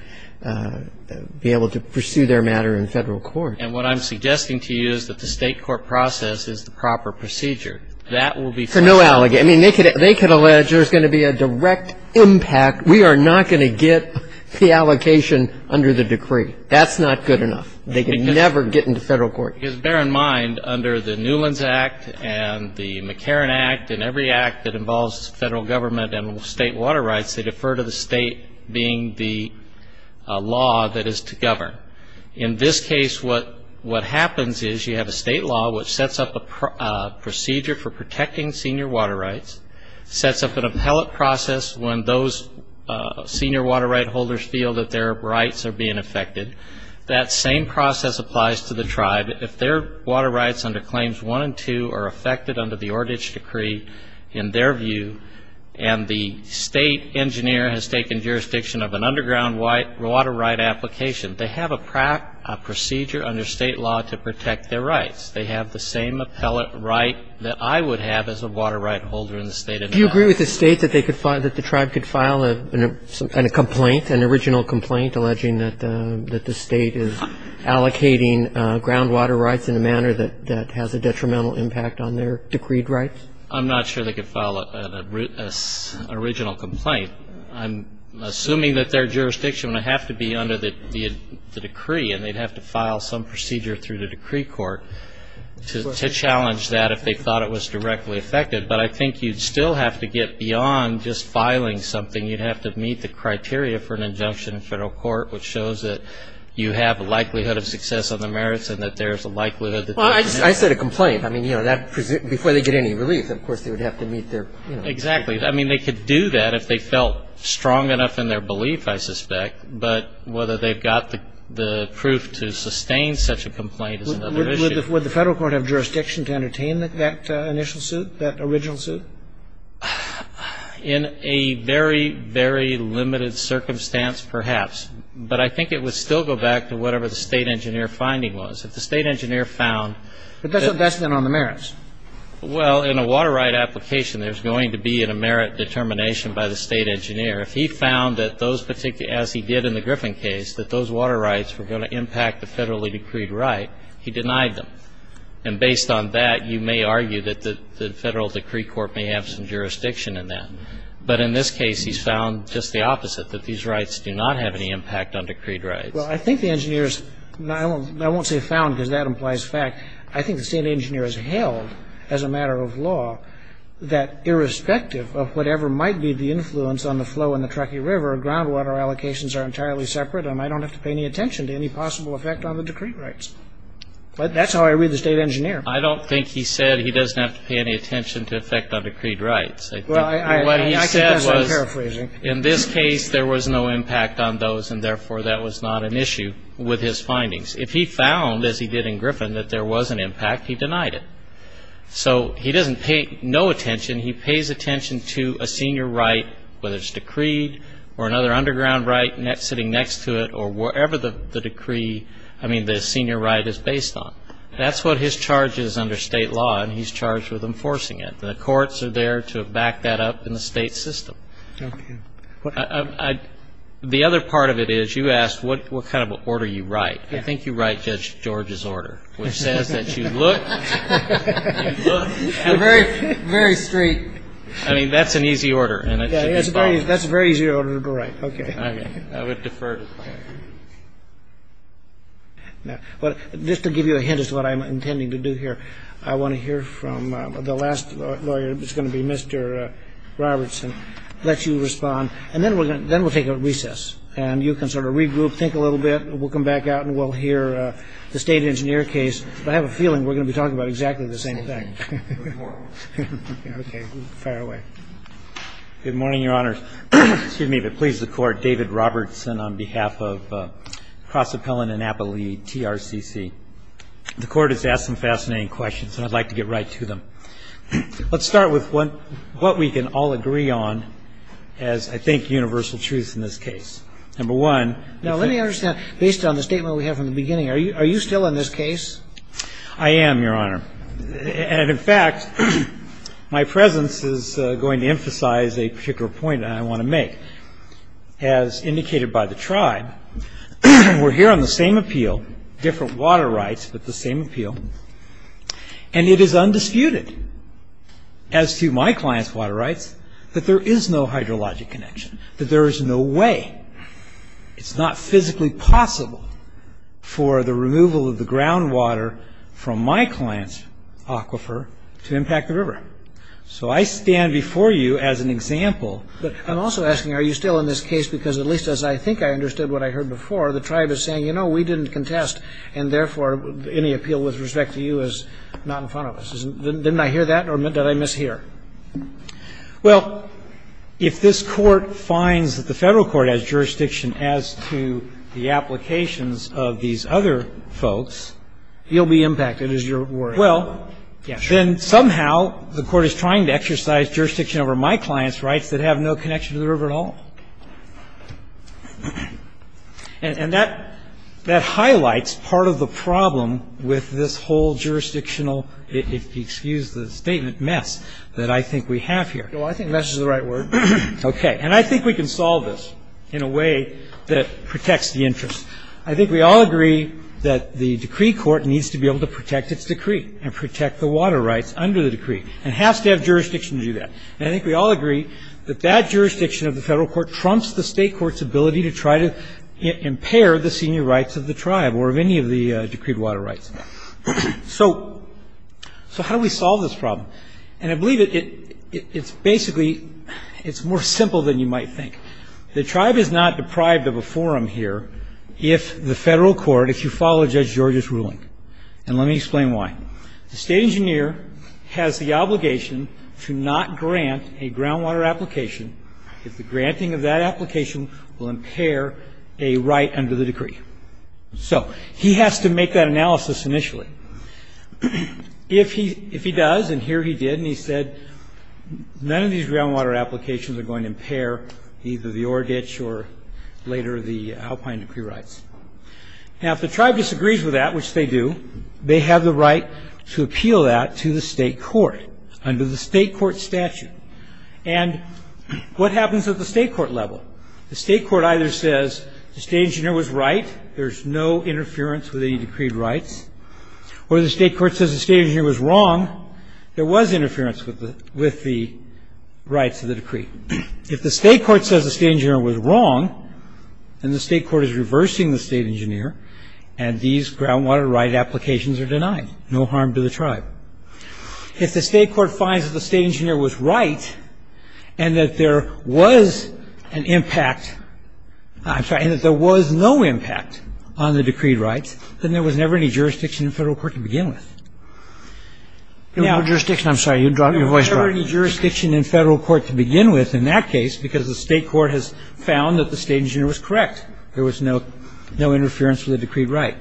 be able to pursue their matter in federal court? And what I'm suggesting to you is that the state court process is the proper procedure. That will be... For no allegation. I mean, they could allege there's going to be a direct impact. We are not going to get the allocation under the decree. That's not good enough. They can never get into federal court. Because bear in mind, under the Newlands Act and the McCarran Act and every act that involves federal government and state water rights, they defer to the state being the law that is to govern. In this case, what happens is you have a state law which sets up a procedure for protecting senior water rights, sets up an appellate process when those senior water right holders feel that their rights are being affected. That same process applies to the tribe. If their water rights under Claims 1 and 2 are affected under the Ordage Decree in their view and the state engineer has taken jurisdiction of an underground water right application, they have a procedure under state law to protect their rights. They have the same appellate right that I would have as a water right holder in the state of Nevada. Do you agree with the state that the tribe could file a complaint, an original complaint alleging that the state is allocating groundwater rights in a manner that has a detrimental impact on their decreed rights? I'm not sure they could file an original complaint. I'm assuming that their jurisdiction would have to be under the decree and they'd have to file some procedure through the decree court to challenge that if they thought it was directly affected. But I think you'd still have to get beyond just filing something. You'd have to meet the criteria for an injunction in federal court which shows that you have a likelihood of success on the merits and that there's a likelihood that there's an impact. I said a complaint. Before they get any relief, of course, they would have to meet their... Exactly. They could do that if they felt strong enough in their belief, I suspect, but whether they've got the proof to sustain such a complaint is another issue. Would the federal court have jurisdiction to entertain that initial suit, that original suit? In a very, very limited circumstance, perhaps. But I think it would still go back to whatever the state engineer finding was. If the state engineer found... But that's a vestment on the merits. Well, in a water right application, there's going to be a merit determination by the state engineer. If he found that those particular... as he did in the Griffin case, that those water rights were going to impact the federally decreed right, he denied them. And based on that, you may argue that the federal decree court may have some jurisdiction in that. But in this case, he's found just the opposite, that these rights do not have any impact on decreed rights. Well, I think the engineer's... I won't say found because that implies fact. I think the state engineer has held, as a matter of law, that irrespective of whatever might be the influence on the flow in the Truckee River, groundwater allocations are entirely separate and I don't have to pay any attention to any possible effect on the decreed rights. But that's how I read the state engineer. I don't think he said that he doesn't have to pay any attention to effect on decreed rights. Well, I can guess what he's paraphrasing. In this case, there was no impact on those and, therefore, that was not an issue with his findings. If he found, as he did in Griffin, that there was an impact, he denied it. So he doesn't pay no attention. He pays attention to a senior right, whether it's decreed or another underground right sitting next to it or whatever the decree, I mean, the senior right is based on. That's what his charge is under state law and he's charged with enforcing it. The courts are there to back that up in the state system. The other part of it is you asked what kind of order you write. I think you write Judge George's order which says that you look... Very straight. I mean, that's an easy order. That's a very easy order to write. Okay. I would defer to that. Just to give you a hint as to what I'm intending to do here, I want to hear from the last lawyer that's going to be Mr. Robertson let you respond and then we'll take a recess and you can sort of regroup, think a little bit and we'll come back out and we'll hear the state engineer case. I have a feeling we're going to be talking about exactly the same thing. Okay. We'll try our way. Good morning, Your Honors. Excuse me, but please, the Court, David Robertson on behalf of Hospitality and Appalachia TRCC. The Court has asked some fascinating questions and I'd like to get right to them. Let's start with what we can all agree on as, I think, universal truth in this case. Number one... Now, let me understand based on the statement we have from the beginning, are you still in this case? I am, Your Honor. And, in fact, my presence is going to emphasize a particular point that I want to make. As indicated by the tribe, we're here on the same appeal, different water rights, but the same appeal, and it is undisputed as to my client's water rights that there is no hydrologic connection, that there is no way, it's not physically possible for the removal of the groundwater from my client's aquifer to impact the river. So, I stand before you as an example. But, I'm also asking, are you still in this case because, at least as I think I understood what I heard before, the tribe is saying, you know, we didn't contest and, therefore, any appeal with respect to you is not in front of us. Didn't I hear that or did I mishear? Well, if this court finds that the federal court has jurisdiction as to the applications of these other folks, you'll be impacted is your word. Well, then, somehow, the court is trying to exercise jurisdiction over my client's rights that have no connection to the river at all. And, that highlights part of the problem with this whole jurisdictional, excuse the statement, mess that I think we have here. So, I think mess is the right word. Okay. And, I think we can solve this in a way that protects the interest. I think we all agree that the decree court needs to be able to protect its decree and protect the water rights under the decree and has to have jurisdiction to do that. And, I think we all agree that that jurisdiction of the federal court trumps the state court's ability to try to impair the senior rights of the tribe or of any of the decreed water rights. So, how do we solve this problem? And, I believe that it's basically it's more simple than you might think. The tribe is not deprived of a forum here if the federal court, if you follow Judge Georgia's ruling. And, let me explain why. has the obligation to not grant a groundwater application if the granting of that application will impair a right under the decree. So, he has to make that analysis initially. If he does, and here he did, and he said, none of these groundwater applications are going to impair either the Orgich or later the Alpine decree rights. Now, if the tribe disagrees with that, which they do, they have the right to appeal that to the state court under the state court statute. And, what happens at the state court level? The state court either says the state engineer was right there's no interference with any decreed rights, or the state court says the state engineer was wrong, there was interference with the rights of the decree. If the state court says the state engineer was wrong, then the state court is reversing the state engineer and these groundwater right applications are denied. No harm to the tribe. If the state court finds that the state engineer was right and that there was an impact, I'm sorry, and that there was no impact on the decreed rights, then there was never any jurisdiction in federal court to begin with. There was no jurisdiction, I'm sorry, you dropped your voice. There was never any jurisdiction in federal court to begin with in that case because the state court has found that the state engineer was correct. There was no interference with the decreed right.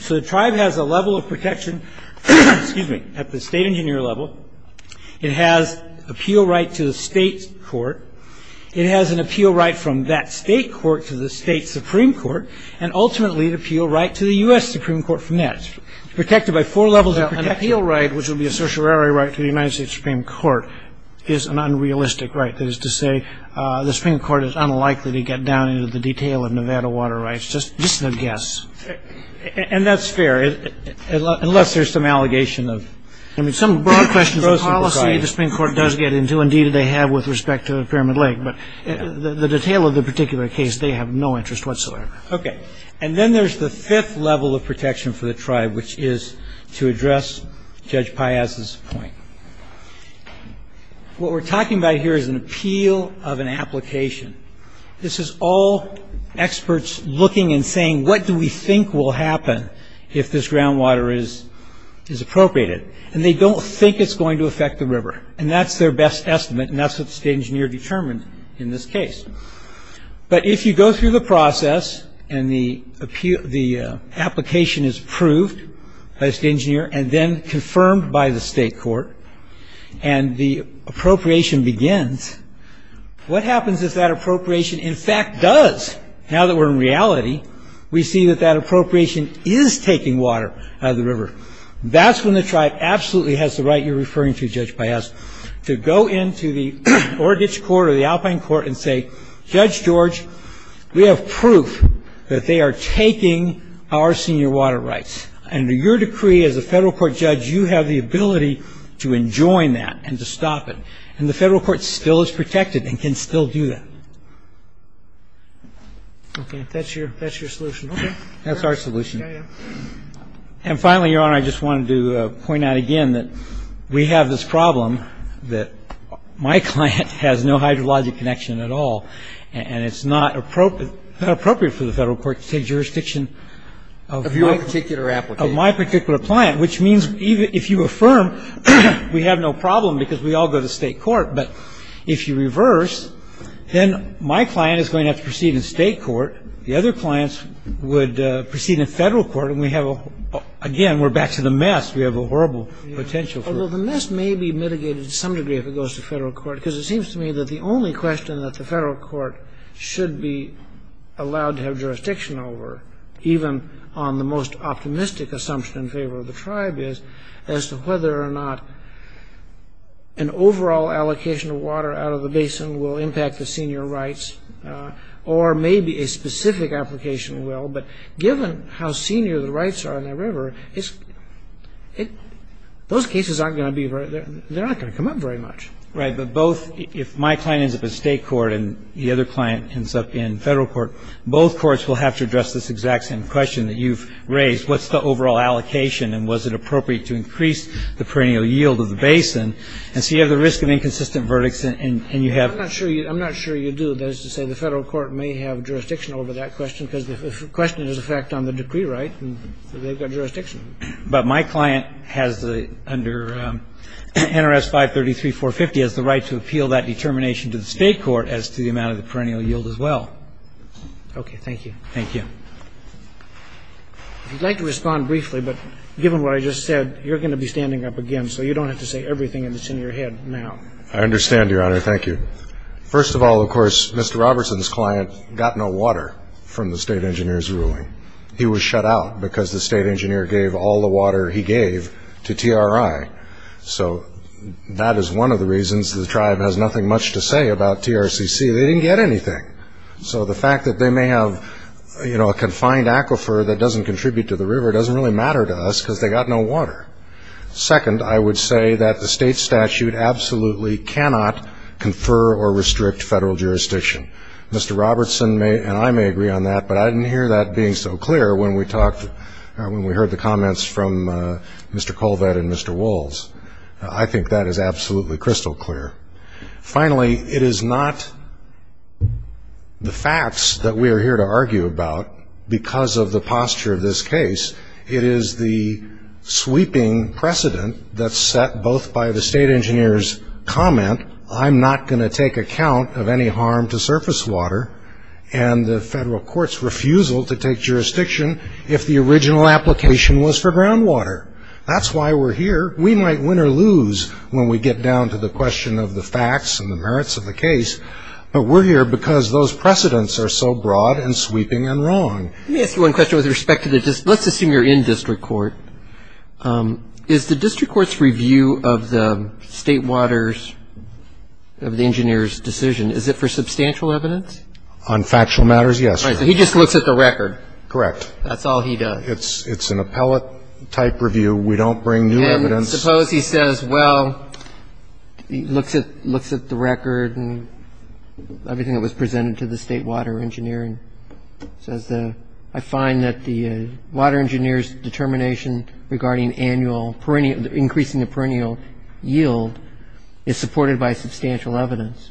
So, the tribe has a level of protection, excuse me, at the state engineer level. It has appeal right to the state court. It has an appeal right from that state court to the state supreme court and ultimately the appeal right to the U.S. Supreme Court from that. Protected by four levels of an appeal right which would be a social area right to the United States Supreme Court is an unrealistic right. That is to say, the Supreme Court is unlikely to get down into the detail of Nevada water rights. Just a guess. And that's fair unless there's some allegation of... I mean, some broad questions of policy, the Supreme Court does get into and indeed they have with respect to the Pyramid Lake but the detail of the particular case, they have no interest whatsoever. Okay. And then there's the fifth level of protection for the tribe which is to address Judge Piazza's point. What we're talking about here is an appeal of an application. This is all experts looking and saying what do we think will happen if this groundwater is appropriated. And they don't think it's going to affect the river. And that's their best estimate and that's what the state engineer determined in this case. But if you go through the process and the application is approved as the engineer and then confirmed by the state court and the appropriation begins, what happens if that appropriation in fact does? Now that we're in reality, we see that that appropriation is taking water out of the river. That's when the tribe absolutely has the right you're referring to, Judge Piazza, to go into the federal court or the alpine court and say, Judge George, we have proof that they are taking our senior water rights. Under your decree as a federal court judge, you have the ability to enjoin that and to stop it. And the federal court still is protected and can still do that. Okay. That's your solution. That's our solution. And finally, Your Honor, I just wanted to point out again that we have this problem that my client has no idea of the hydrologic connection at all. And it's not appropriate for the federal court to take jurisdiction of my particular client, which means if you affirm, we have no problem because we all go to state court. But if you reverse, then my client is going to have to proceed in state court. The other clients would proceed in federal court and we have, again, we're back to the mess. We have a horrible potential for it. Well, the mess may be mitigated to some degree if it goes to federal court because it seems to me that the only question that the federal court should be allowed to have jurisdiction over, even on the most optimistic assumption in favor of the tribe, is as to whether or not an overall allocation of water out of the basin will impact the senior rights or maybe a specific application will, but given how senior in the river, those cases aren't going to be very, they're not going to come up very much. Right, but both, if my client has no idea and my client ends up in state court and the other client ends up in federal court, both courts will have to address this exact same question that you've raised, what's the overall allocation and was it appropriate to increase the perennial yield of the basin, and so you have the risk of inconsistent verdicts and you have I'm not sure you do, that is to say, the federal court may have jurisdiction over that question because the question is a fact on the decree rights and they've got jurisdiction. But my client has under NRS 533-450 has the right to appeal that determination to the state court as to the amount of the perennial yield as well. Okay, thank you. Thank you. I'd like to respond briefly, but given what I just said, you're going to be standing up again, so you don't have to say everything that's in your head now. I understand, Your Honor. Thank you. First of all, of course, Mr. Robertson's client got no water from the state engineer's ruling. He was shut out because the state engineer gave all the water he gave to TRI. So that is one of the reasons the tribe has nothing much to say about TRCC. They didn't get anything. So the fact that they may have, you know, a confined aquifer that doesn't contribute to the jurisdiction of absolutely clear. The state engineer absolutely cannot confer or restrict federal jurisdiction. Mr. Robertson and I may agree on that, but I didn't hear that being so clear when we heard the comments from Mr. Colvett and Mr. Walz. I think that is absolutely crystal clear. Finally, it is not the state engineer's comment. I'm not going to take account of any harm to surface water and the federal court's refusal to take jurisdiction if the original application was for groundwater. That's why we're here. We might win or lose when we get down to the question of the facts and merits of the case, but we're here because those precedents are so broad and sweeping and we're here because we're not going to give up on the state engineer's decision. Is it for substantial evidence? On factual matters, yes. He just looks at the record? Correct. That's all he does? It's an appellate type review. We don't bring new evidence. Suppose he says, well, looks at the record and everything that was presented to the state water engineer and says, I find that the water engineer's determination regarding increasing the perennial yield is supported by substantial evidence.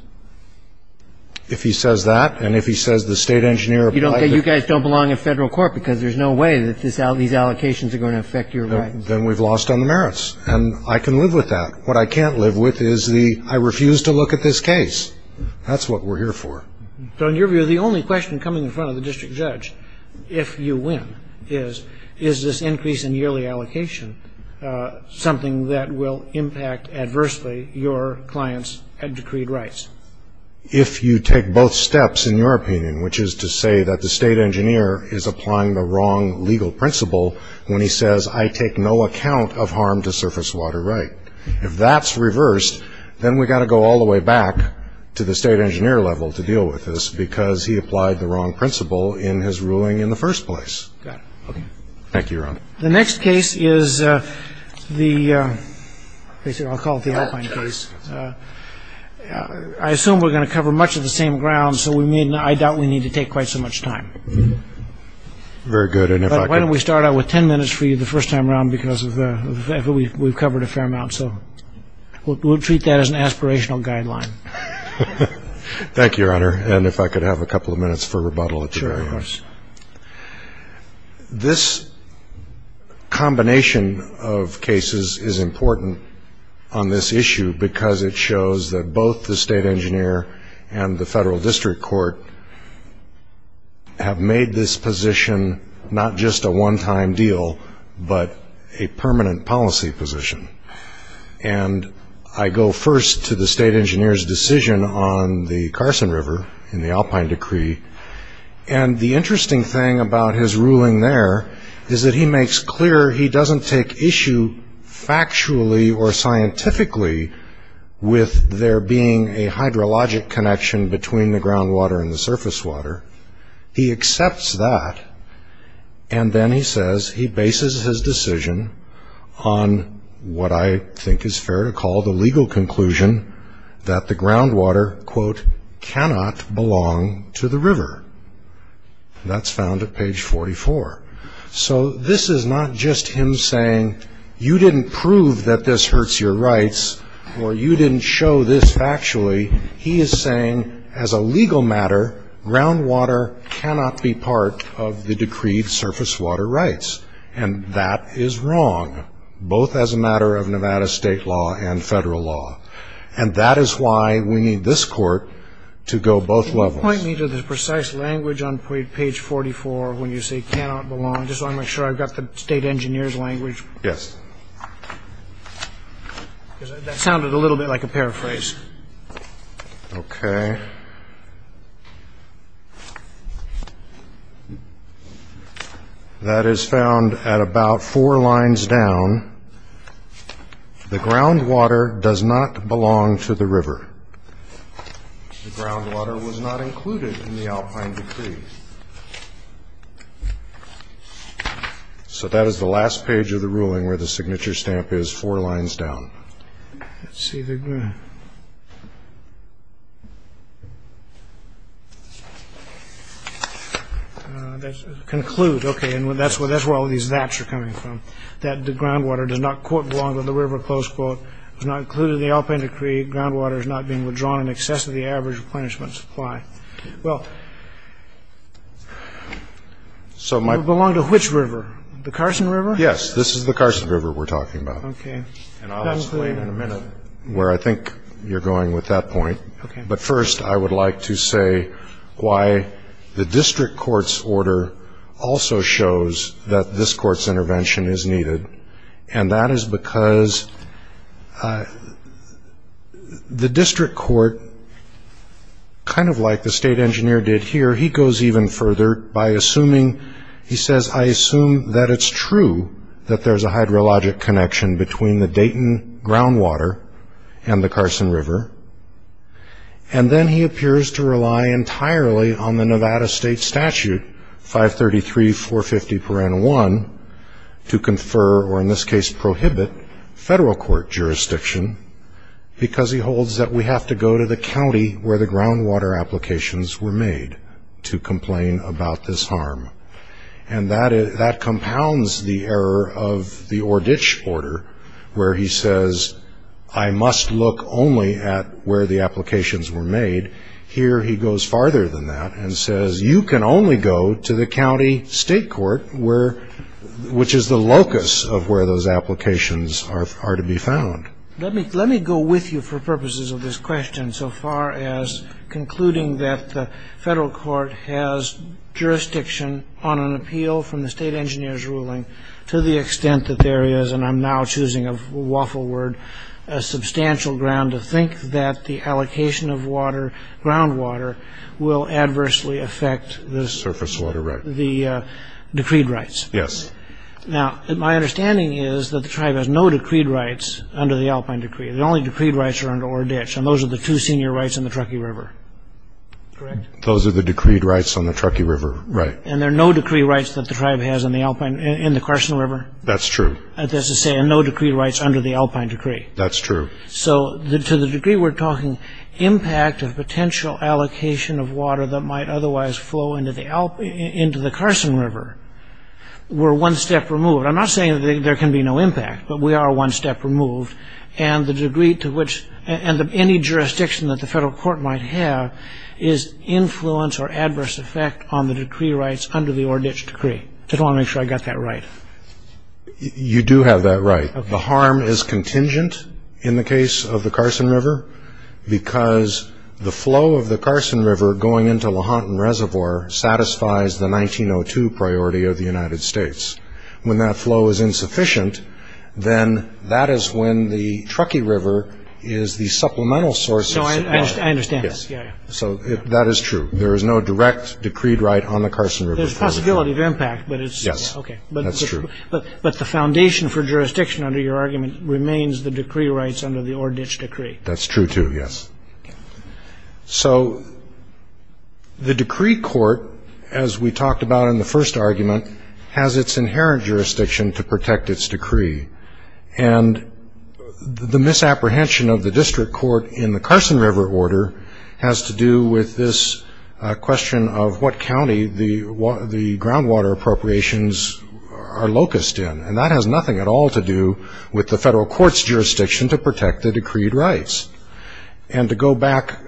If he says that and if he says the state engineer... You guys don't belong in federal court because there's no way these allocations are going to affect your record. Then we're lost on the merits and I can live with that. What I can't live with is the I refuse to look at this record. fact that the state engineer's determination is this increase in yearly allocation something that will impact adversely your client's and decreed rights. If you take both steps in your opinion, which is to say that the state engineer is applying the wrong legal principle when he says I take no account of harm to no way that we can get that information in the first place. The next case is the I assume we're going to cover much of the same ground, so I doubt we need to take quite so much time. Why don't we start out with ten minutes for you first time around because we covered a fair amount so we'll treat that as an aspirational guideline. Thank you, your honor, and if I could have a couple of minutes for rebuttal. This combination of cases is important on this issue because it shows that both the state engineer and the federal district court have made this position not just a one-time deal but a two-time deal. engineer has made this position. And I go first to the state engineer's decision on the Carson River in the Alpine Decree. And the interesting thing about his ruling there is that he makes clear he doesn't take issue factually or scientifically with there being a ground right. He makes what I think is fair to call the legal conclusion that the ground water cannot belong to the river. That's found at page 44. So this is not just him saying you didn't prove that this hurts your rights or you didn't show the ground right. He is saying as a legal matter, ground water cannot be part of the decreed surface water rights. And that is wrong. Both as a matter of Nevada state law and federal law. And that is why we need this court to go both levels. If you could point me to the precise language on page 44 when you say cannot belong. I want to make sure I have the state engineer's language. That sounded a little bit like a paraphrase. Okay. That is found at about four lines down. The ground water does not belong to the river. The ground water was not included in the Alpine decree. So, that is the last page of the ruling where the signature stamp is four lines down. Let's see. Conclude. That is where all these gaps are coming from. That the ground water does not belong to the river. the ground water does not belong to the river. This is the Carson river we are talking about. I think you are going with that point. First, I would like to say why the district court's order also shows that this court's intervention is needed. That is because the district court, kind of like the state engineer did here, goes even further by assuming, he says, I assume it is true that there is a hydrologic connection between the Dayton ground water and the Carson river. He says, I must look only at where the applications were made. that and says, you can only go to the county state court where the ground water applications were made. He says, I must look only applications were made. That is the locus of where those applications are to be found. Let me go with you for purposes of this question so far as concluding that the federal court has jurisdiction on an appeal from the state engineer's ruling to the extent that there is, and I'm now choosing a waffle word, a substantial ground to think that the allocation of groundwater will adversely affect the decreed rights. My understanding is that the tribe has no decreed rights under the Alpine decree. The only decreed rights are under Oreditch. Those are the two decreed rights under the Alpine decree. To the degree we are talking impact of potential allocation of water that might otherwise flow into the Carson River were one step removed. I'm not saying there can be no impact. We are one step removed. Any jurisdiction that the federal court might have is influence or adverse effect on the decree rights under the Oreditch decree. I just want to make sure I got that right. You do have that right. The harm is contingent in the case of the Carson River because the flow of the Carson River going into the Lahontan Reservoir satisfies the 1902 priority of the United States. That is true. There is no direct decree right on the Carson River. But the foundation for jurisdiction remains the decree rights under the Oreditch decree. So, the decree court, as we talked about in the first argument, has its inherent jurisdiction to protect its decree. And the misapprehension of the district court in the Carson River order has to do with this question of what county the groundwater appropriations are locust in. And that has nothing at all to do with the federal court's jurisdiction to protect the decreed rights. And to go back,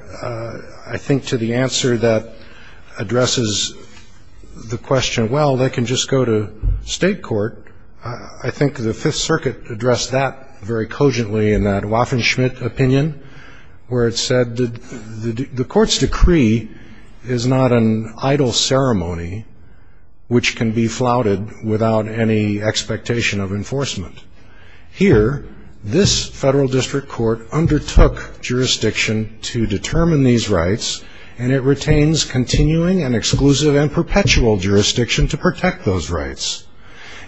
I think, to the answer that addresses the federal district court, where it said, the court's decree is not an idle ceremony which can be flouted without any expectation of enforcement. Here, this federal district court undertook jurisdiction to determine these rights, and it retains continuing and these rights.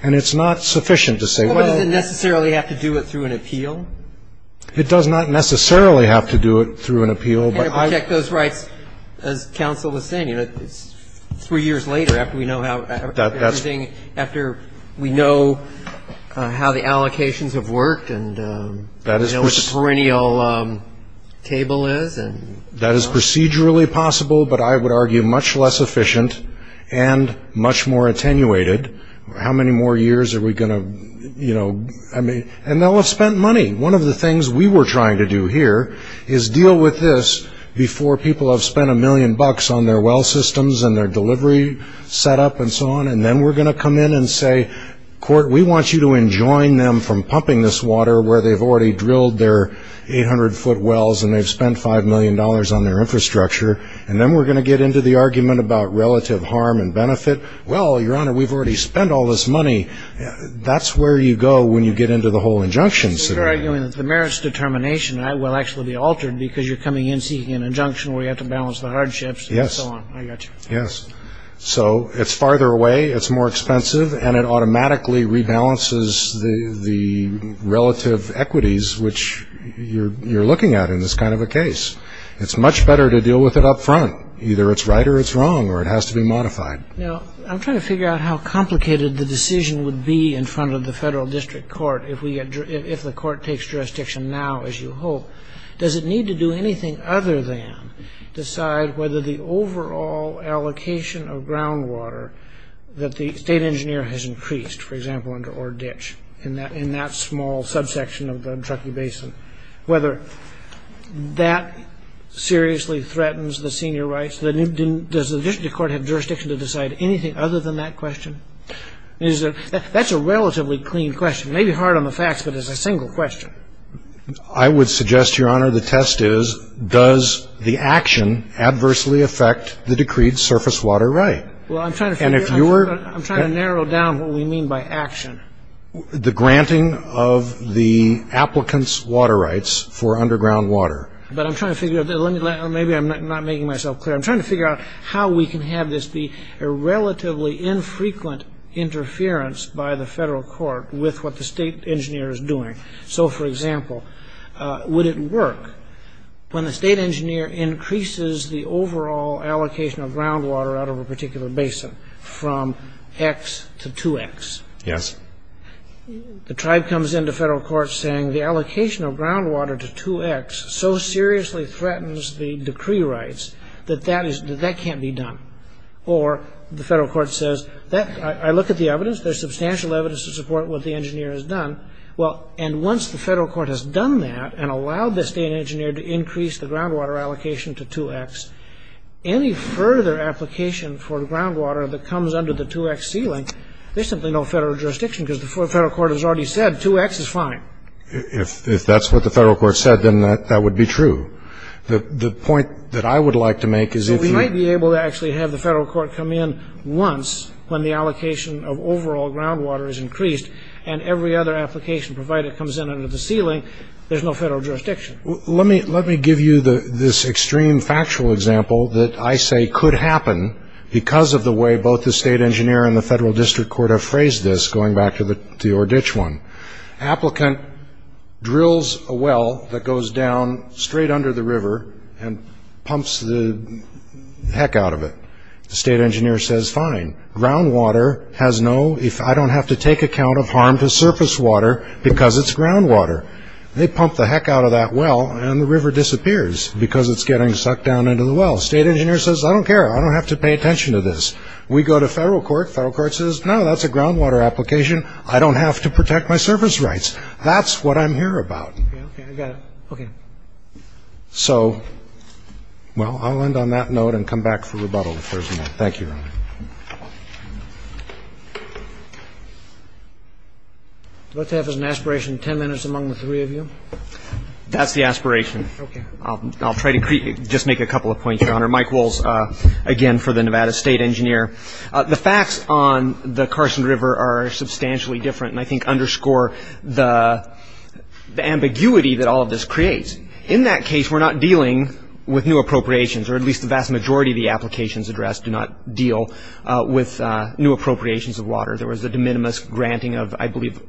It doesn't necessarily have to do it through an appeal. Three years later, after we know how the allocations have worked and what the perennial table is. That is procedurally possible, but I would argue much less than that. I would argue district court is not an idle ceremony which can be flouted without any expectation of enforcement. The merits of this process will actually be altered because you are seeking an injunction where you have to balance the hardships. It is farther away, more expensive, and it automatically rebalances the relative equities which you are looking at in this case. It is much better to deal with it up front. Either it is right or wrong. It has to be modified. I'm trying to figure out how complicated the decision would be in front of the federal district court. Does it need to do anything other than decide whether the overall allocation of groundwater that the state engineer has increased in that small subsection of the Truckee Basin, whether that seriously threatens the senior rights? Does the district court have jurisdiction to decide anything other than that question? That is a relatively clean question. It may be hard on the facts, but it is a single question. I would suggest the test is does the action adversely affect the decreed surface water right? I'm trying to answer question. Would this be a relatively infrequent interference by the federal court with what the state engineer is doing? For example, would it work when the state engineer increases the overall allocation of groundwater out of a particular basin from 2X to 2X? The tribe comes into federal court saying the allocation of groundwater to 2X so seriously threatens the decree rights that that can't be done. Or the federal court says I look at the evidence, there is substantial evidence to support what the engineer has done. Once the federal court has done that and allowed the engineer to increase the allocation to 2X, any further application for groundwater that comes under the 2X ceiling, there is no federal jurisdiction because the federal court has already said 2X is fine. If that's what the federal court said, that would be true. We might be able to have the federal court come in once when the allocation of overall groundwater is increased and every other application provided comes under the ceiling, there is no federal jurisdiction. Let me give you this extreme example that I say could happen because of the way both the state engineer and the federal court have phrased this. Applicant drills a well that goes down straight under the river and pumps the heck out of it. The state engineer says fine, groundwater has no, I don't have to take account of harm to surface water because it's groundwater. They pump the heck out of that well and the river disappears because it's getting sucked down into the well. State engineer says I don't care, I don't have to pay attention to this. We go to federal court, federal court says no, that's a groundwater application, I don't have to protect my surface rights. That's what I'm here about. So, I'll end on that note and come back for rebuttal. Thank you. Let's have as an aspiration ten minutes among the three of you. That's the aspiration. I'll try to just make a couple of points, your honor. The facts on the Carson River are substantially different and I think underscore the ambiguity that all of this creates. In that case we're not dealing with new appropriations or at least the vast majority of the applications addressed do not deal with new appropriations of water. There was a granting of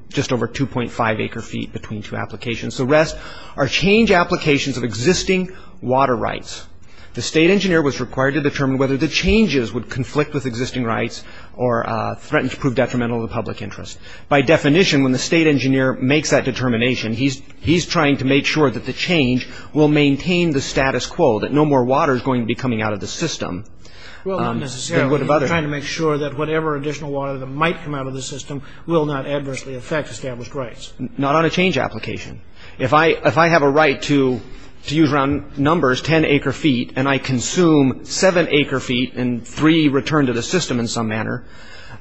just over 2.5 acre feet between two applications. The rest are change applications of existing water rights. The state engineer was required to determine whether the changes would conflict with existing rights or threaten to prove detrimental to the public interest. By definition when the state engineer makes that determination he's trying to make sure that the change will maintain the status quo, that no more water is going to be coming out of the system. Not on a particular If I use numbers 10 acre feet and I consume seven acre feet and three return to the system in some manner,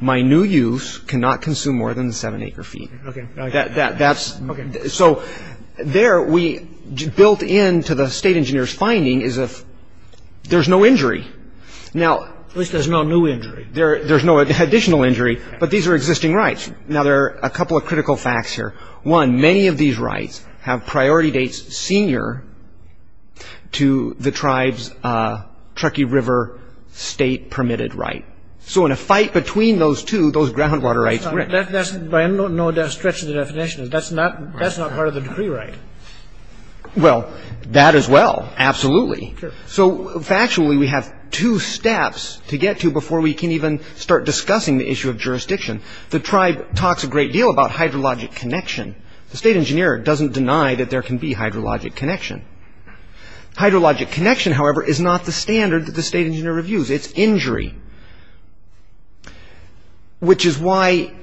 my new use cannot consume more than seven acre feet. There we built into the state engineer's finding is there's no injury. There's no additional injury but these are existing rights. There are a couple of critical facts here. One, many of these rights have priority dates senior to the tribes river state permitted right. In a fight between those two, those ground water rights. That's not part of the decree right. That as well. Absolutely. Factually we have two steps to get to before we can even start discussing the issue of jurisdiction. The tribe talks a great deal about hydrologic connection. The state engineer doesn't deny there can be hydrologic connection. Hydrologic connection is not the standard the state engineer reviews. It's injury. Which is why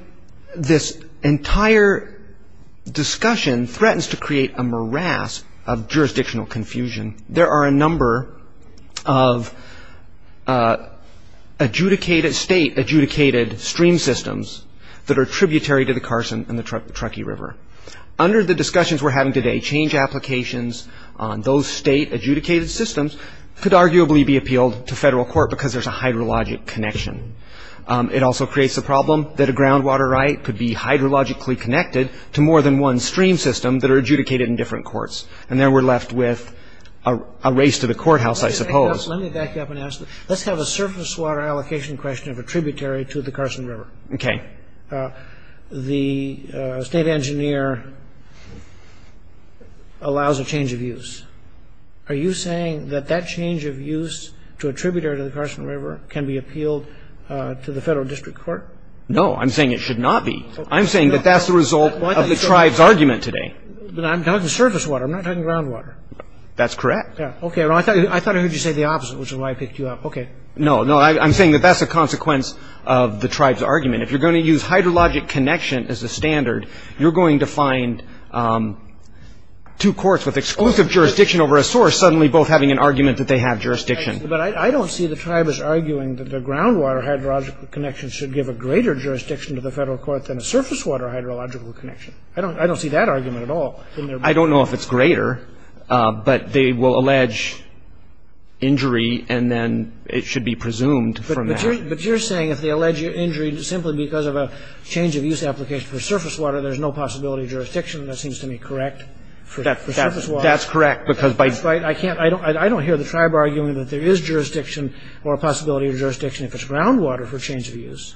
this entire discussion threatens to create a morass of jurisdictional confusion. There are a number of adjudicated state adjudicated systems. a number of adjudicated stream systems that are tributary to the river. Under the discussions we are having today, change applications on those state adjudicated systems could be appealed to federal court because there is a hydrologic connection. It also creates a problem that a ground water system could be connected to more than one stream system that are adjudicated in different courts. And then we are left with a race to the courthouse. Let's have a surface water allocation question of tributary to the Carson River. The state engineer allows a change of use. Are you saying that that change of use to a tributary to the Carson River can be appealed to the federal district court? No. I'm saying it should not be. I'm saying that that is the result of the tribes argument today. I'm talking surface water. I'm not talking ground water. That is correct. I thought I heard you say the opposite. I'm saying that is the result of the tribes argument. I don't see the tribes arguing that the ground water connection should give a greater jurisdiction to the federal court. I don't see that argument at all. I don't know if it is greater but they will allege injury and it should be presumed. You are saying that simply because of a change of use application there is no possibility of jurisdiction. That is correct. I don't hear the tribe argument that there is jurisdiction or possibility of jurisdiction if it is ground water. That is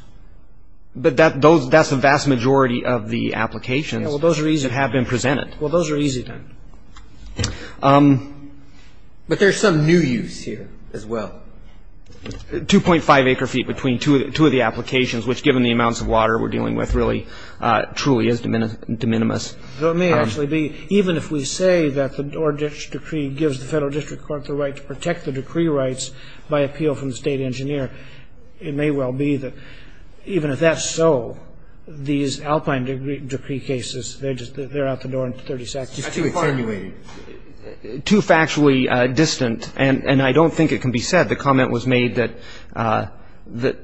the vast majority of the applications that have been presented. Those are easy. There is some new use here as well. 2.5 acre feet between two of the state and the federal court. Even if we say the federal district court protects the decree rights by appeal from the state engineer it may well be that even if that is so the cases have handled in a consistent manner. Too factually distant. I don't think it can be said that the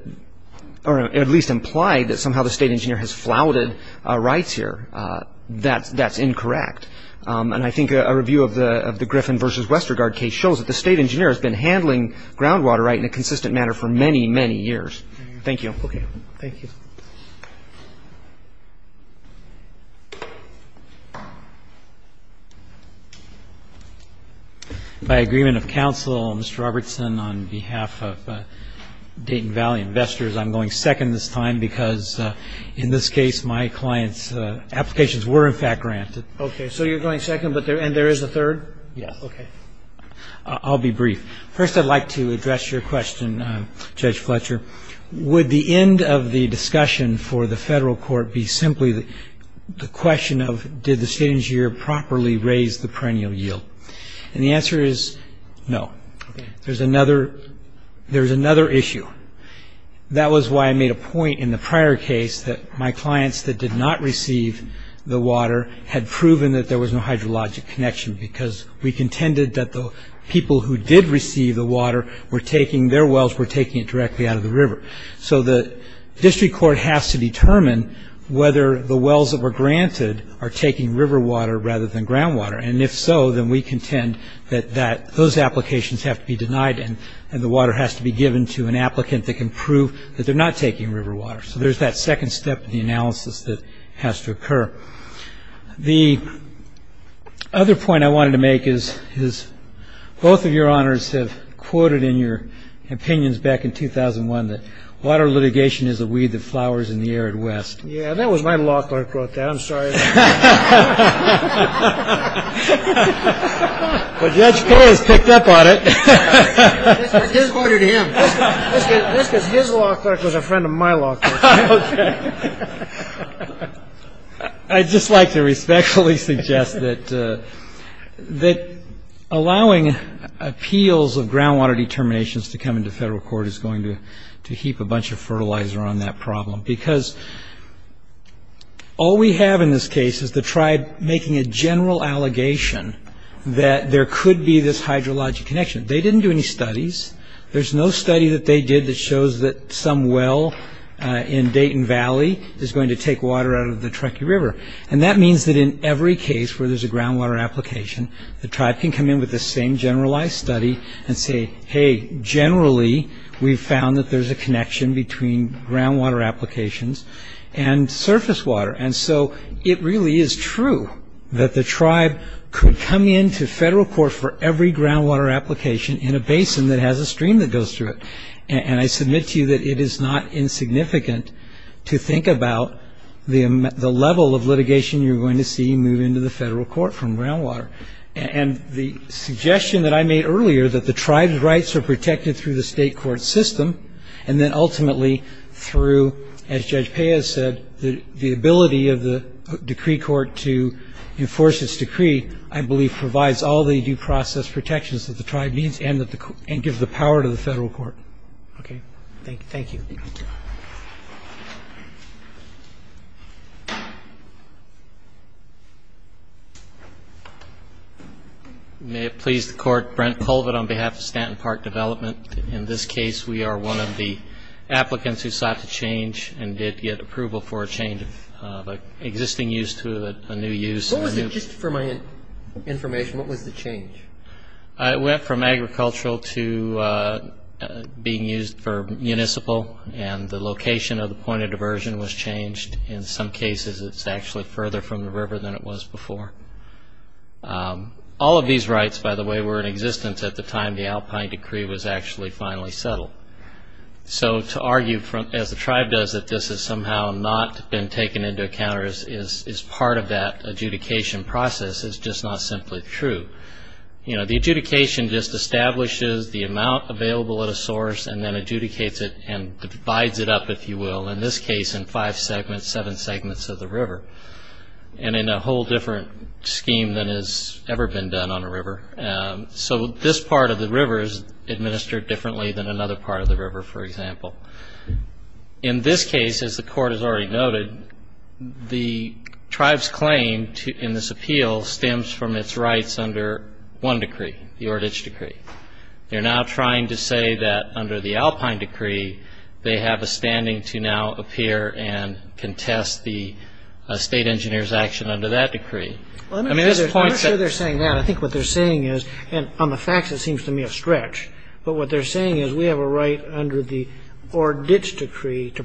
state engineer has flouted rights here. That is incorrect. The state engineer has been handling ground water rights in a consistent manner for many years. Thank you. By agreement of counsel Mr. Robertson on behalf of Dayton Valley investors I'm going second this time because in this case my client's applications were granted. You are going second and there is a third? I'll be brief. First I would like to address your question judge Fletcher. Would the end of the discussion for the federal court be simply the question of did the state engineer properly raise the perennial yield? The answer is no. There is another issue. That was why I made a point in the prior case that my clients that did not receive the water had proven there was no hydrologic connection because we contended the people who did receive the water were taking it directly out of the river. The district court has to determine whether the wells granted are taking river water rather than ground water. If so, we contend those applications have to be denied and the water has to be taken directly out of the river. The other point I wanted to make is both of your honors have quoted in your opinions back in 2001 that water litigation is a weed that flowers in the arid west. That was my law clerk. I'm sorry. But Judge Perry picked up on it. His lawyer to him. His law clerk was a friend of my law clerk. I just like to respectfully suggest that allowing appeals of ground water determinations to come into federal court is going to heap a bunch of fertilizer on that problem because all we have in this case is the tribe making a general allegation that there could be this hydrologic connection. They didn't do any studies. There's no ground water application. The tribe in Dayton Valley is going to take water out of the river. That means in every case where there's a ground water application, the tribe can come in with the same generalized study and say generally we found there's a connection between ground water applications and surface water. It really is true that the tribe could come into federal court for every ground water application in a basin that has a stream that goes through it. It is not insignificant to think about the level of litigation you're going to see moving to the federal court from ground water. The suggestion I made earlier that the tribe rights are protected through the state court system and ultimately through the ability of the decree court to enforce this decree I believe provides all the due process protections that the tribe needs and gives the power to the federal Thank you. May it please the court, Brent Pulvid on behalf of Stanton Park development. In this case we are well aware that the tribe rights were in existence at the don't recall the exact date. I don't recall the exact date. I don't recall the exact date. I recall the exact date. To argue that this has not been taken into account is part of that process. It is not simply true. The adjudication establishes the amount available at a source and divides it up. In this case, as the court has already noted, the tribe's claim in this appeal stems from its rights under one decree. They are now trying to say under the Alpine decree they have a standing to appear and contest the state engineers action under that decree. I think what they are saying is on the facts it seems to me a stretch but they are saying we have a right to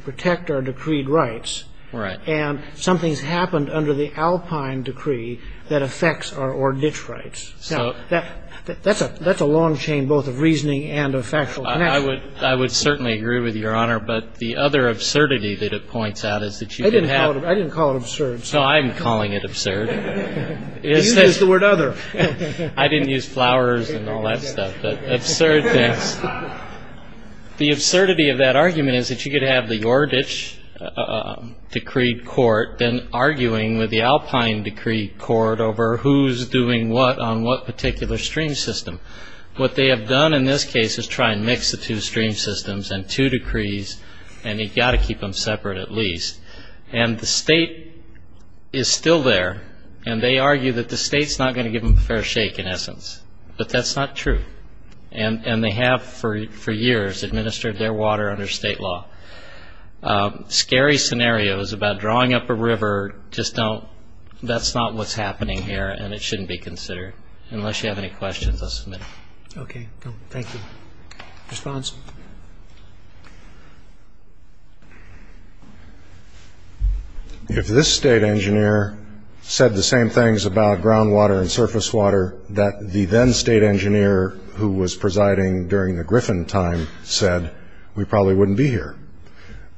protect our decreed rights and something happened under the Alpine decree that affects our rights. That is a long chain of reasoning. I would certainly agree with your honor but the other absurdity I didn't call it absurdity but the absurdity of that argument is that you could have the Yordish decree court arguing with the Alpine decree court over who is doing what on what particular stream system. What they have done in this case is try to mix the two systems and keep them separate at least. The state is still there and they argue that the state is not going to give them a fair shake but that is not true. Scary scenarios about drawing up a river, that is not what is happening here and it should not be considered unless you have any questions. If this state engineer said the same things about groundwater and surface water that the then state engineer who was presiding during the Griffin time said we probably wouldn't be here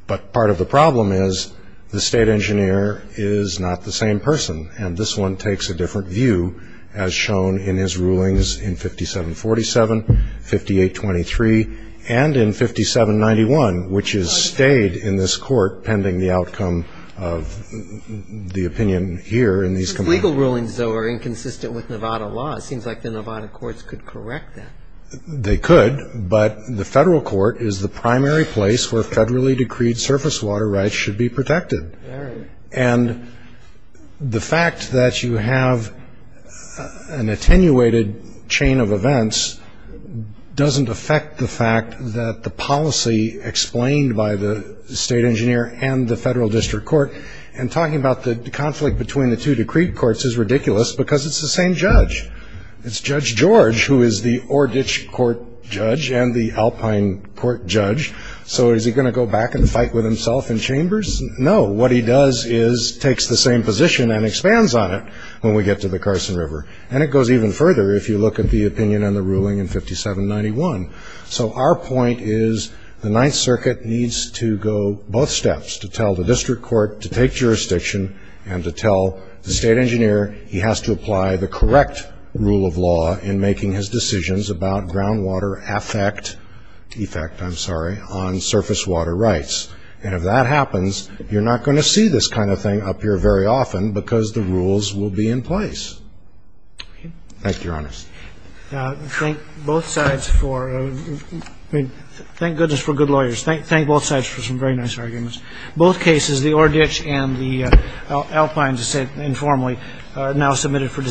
but part of the problem is the state engineer is not the same person and this one takes a different view as shown in his rulings in 5747, 5823 and in 5791 which is stayed in this court pending the outcome of the opinion here. Legal rulings are inconsistent with Nevada law. They could but the federal court is the primary place where the state has the authority to make decisions. The fact that you have an attenuated chain of events doesn't affect the fact that the policy explained by the state engineer and the federal district court and talking about the conflict between the two courts is ridiculous because it's the state engineer and the federal district court. He's going to go back and fight with himself in chambers? No. What he does is takes the same position and expands on it when we get to the Carson River. Our point is the ninth case is about ground water effect on surface water rights. If that happens, you're not going to see this up here very often because the rules will be in place. Thank you, your honor. Thank goodness for good lawyers. Thank both sides for Thank you.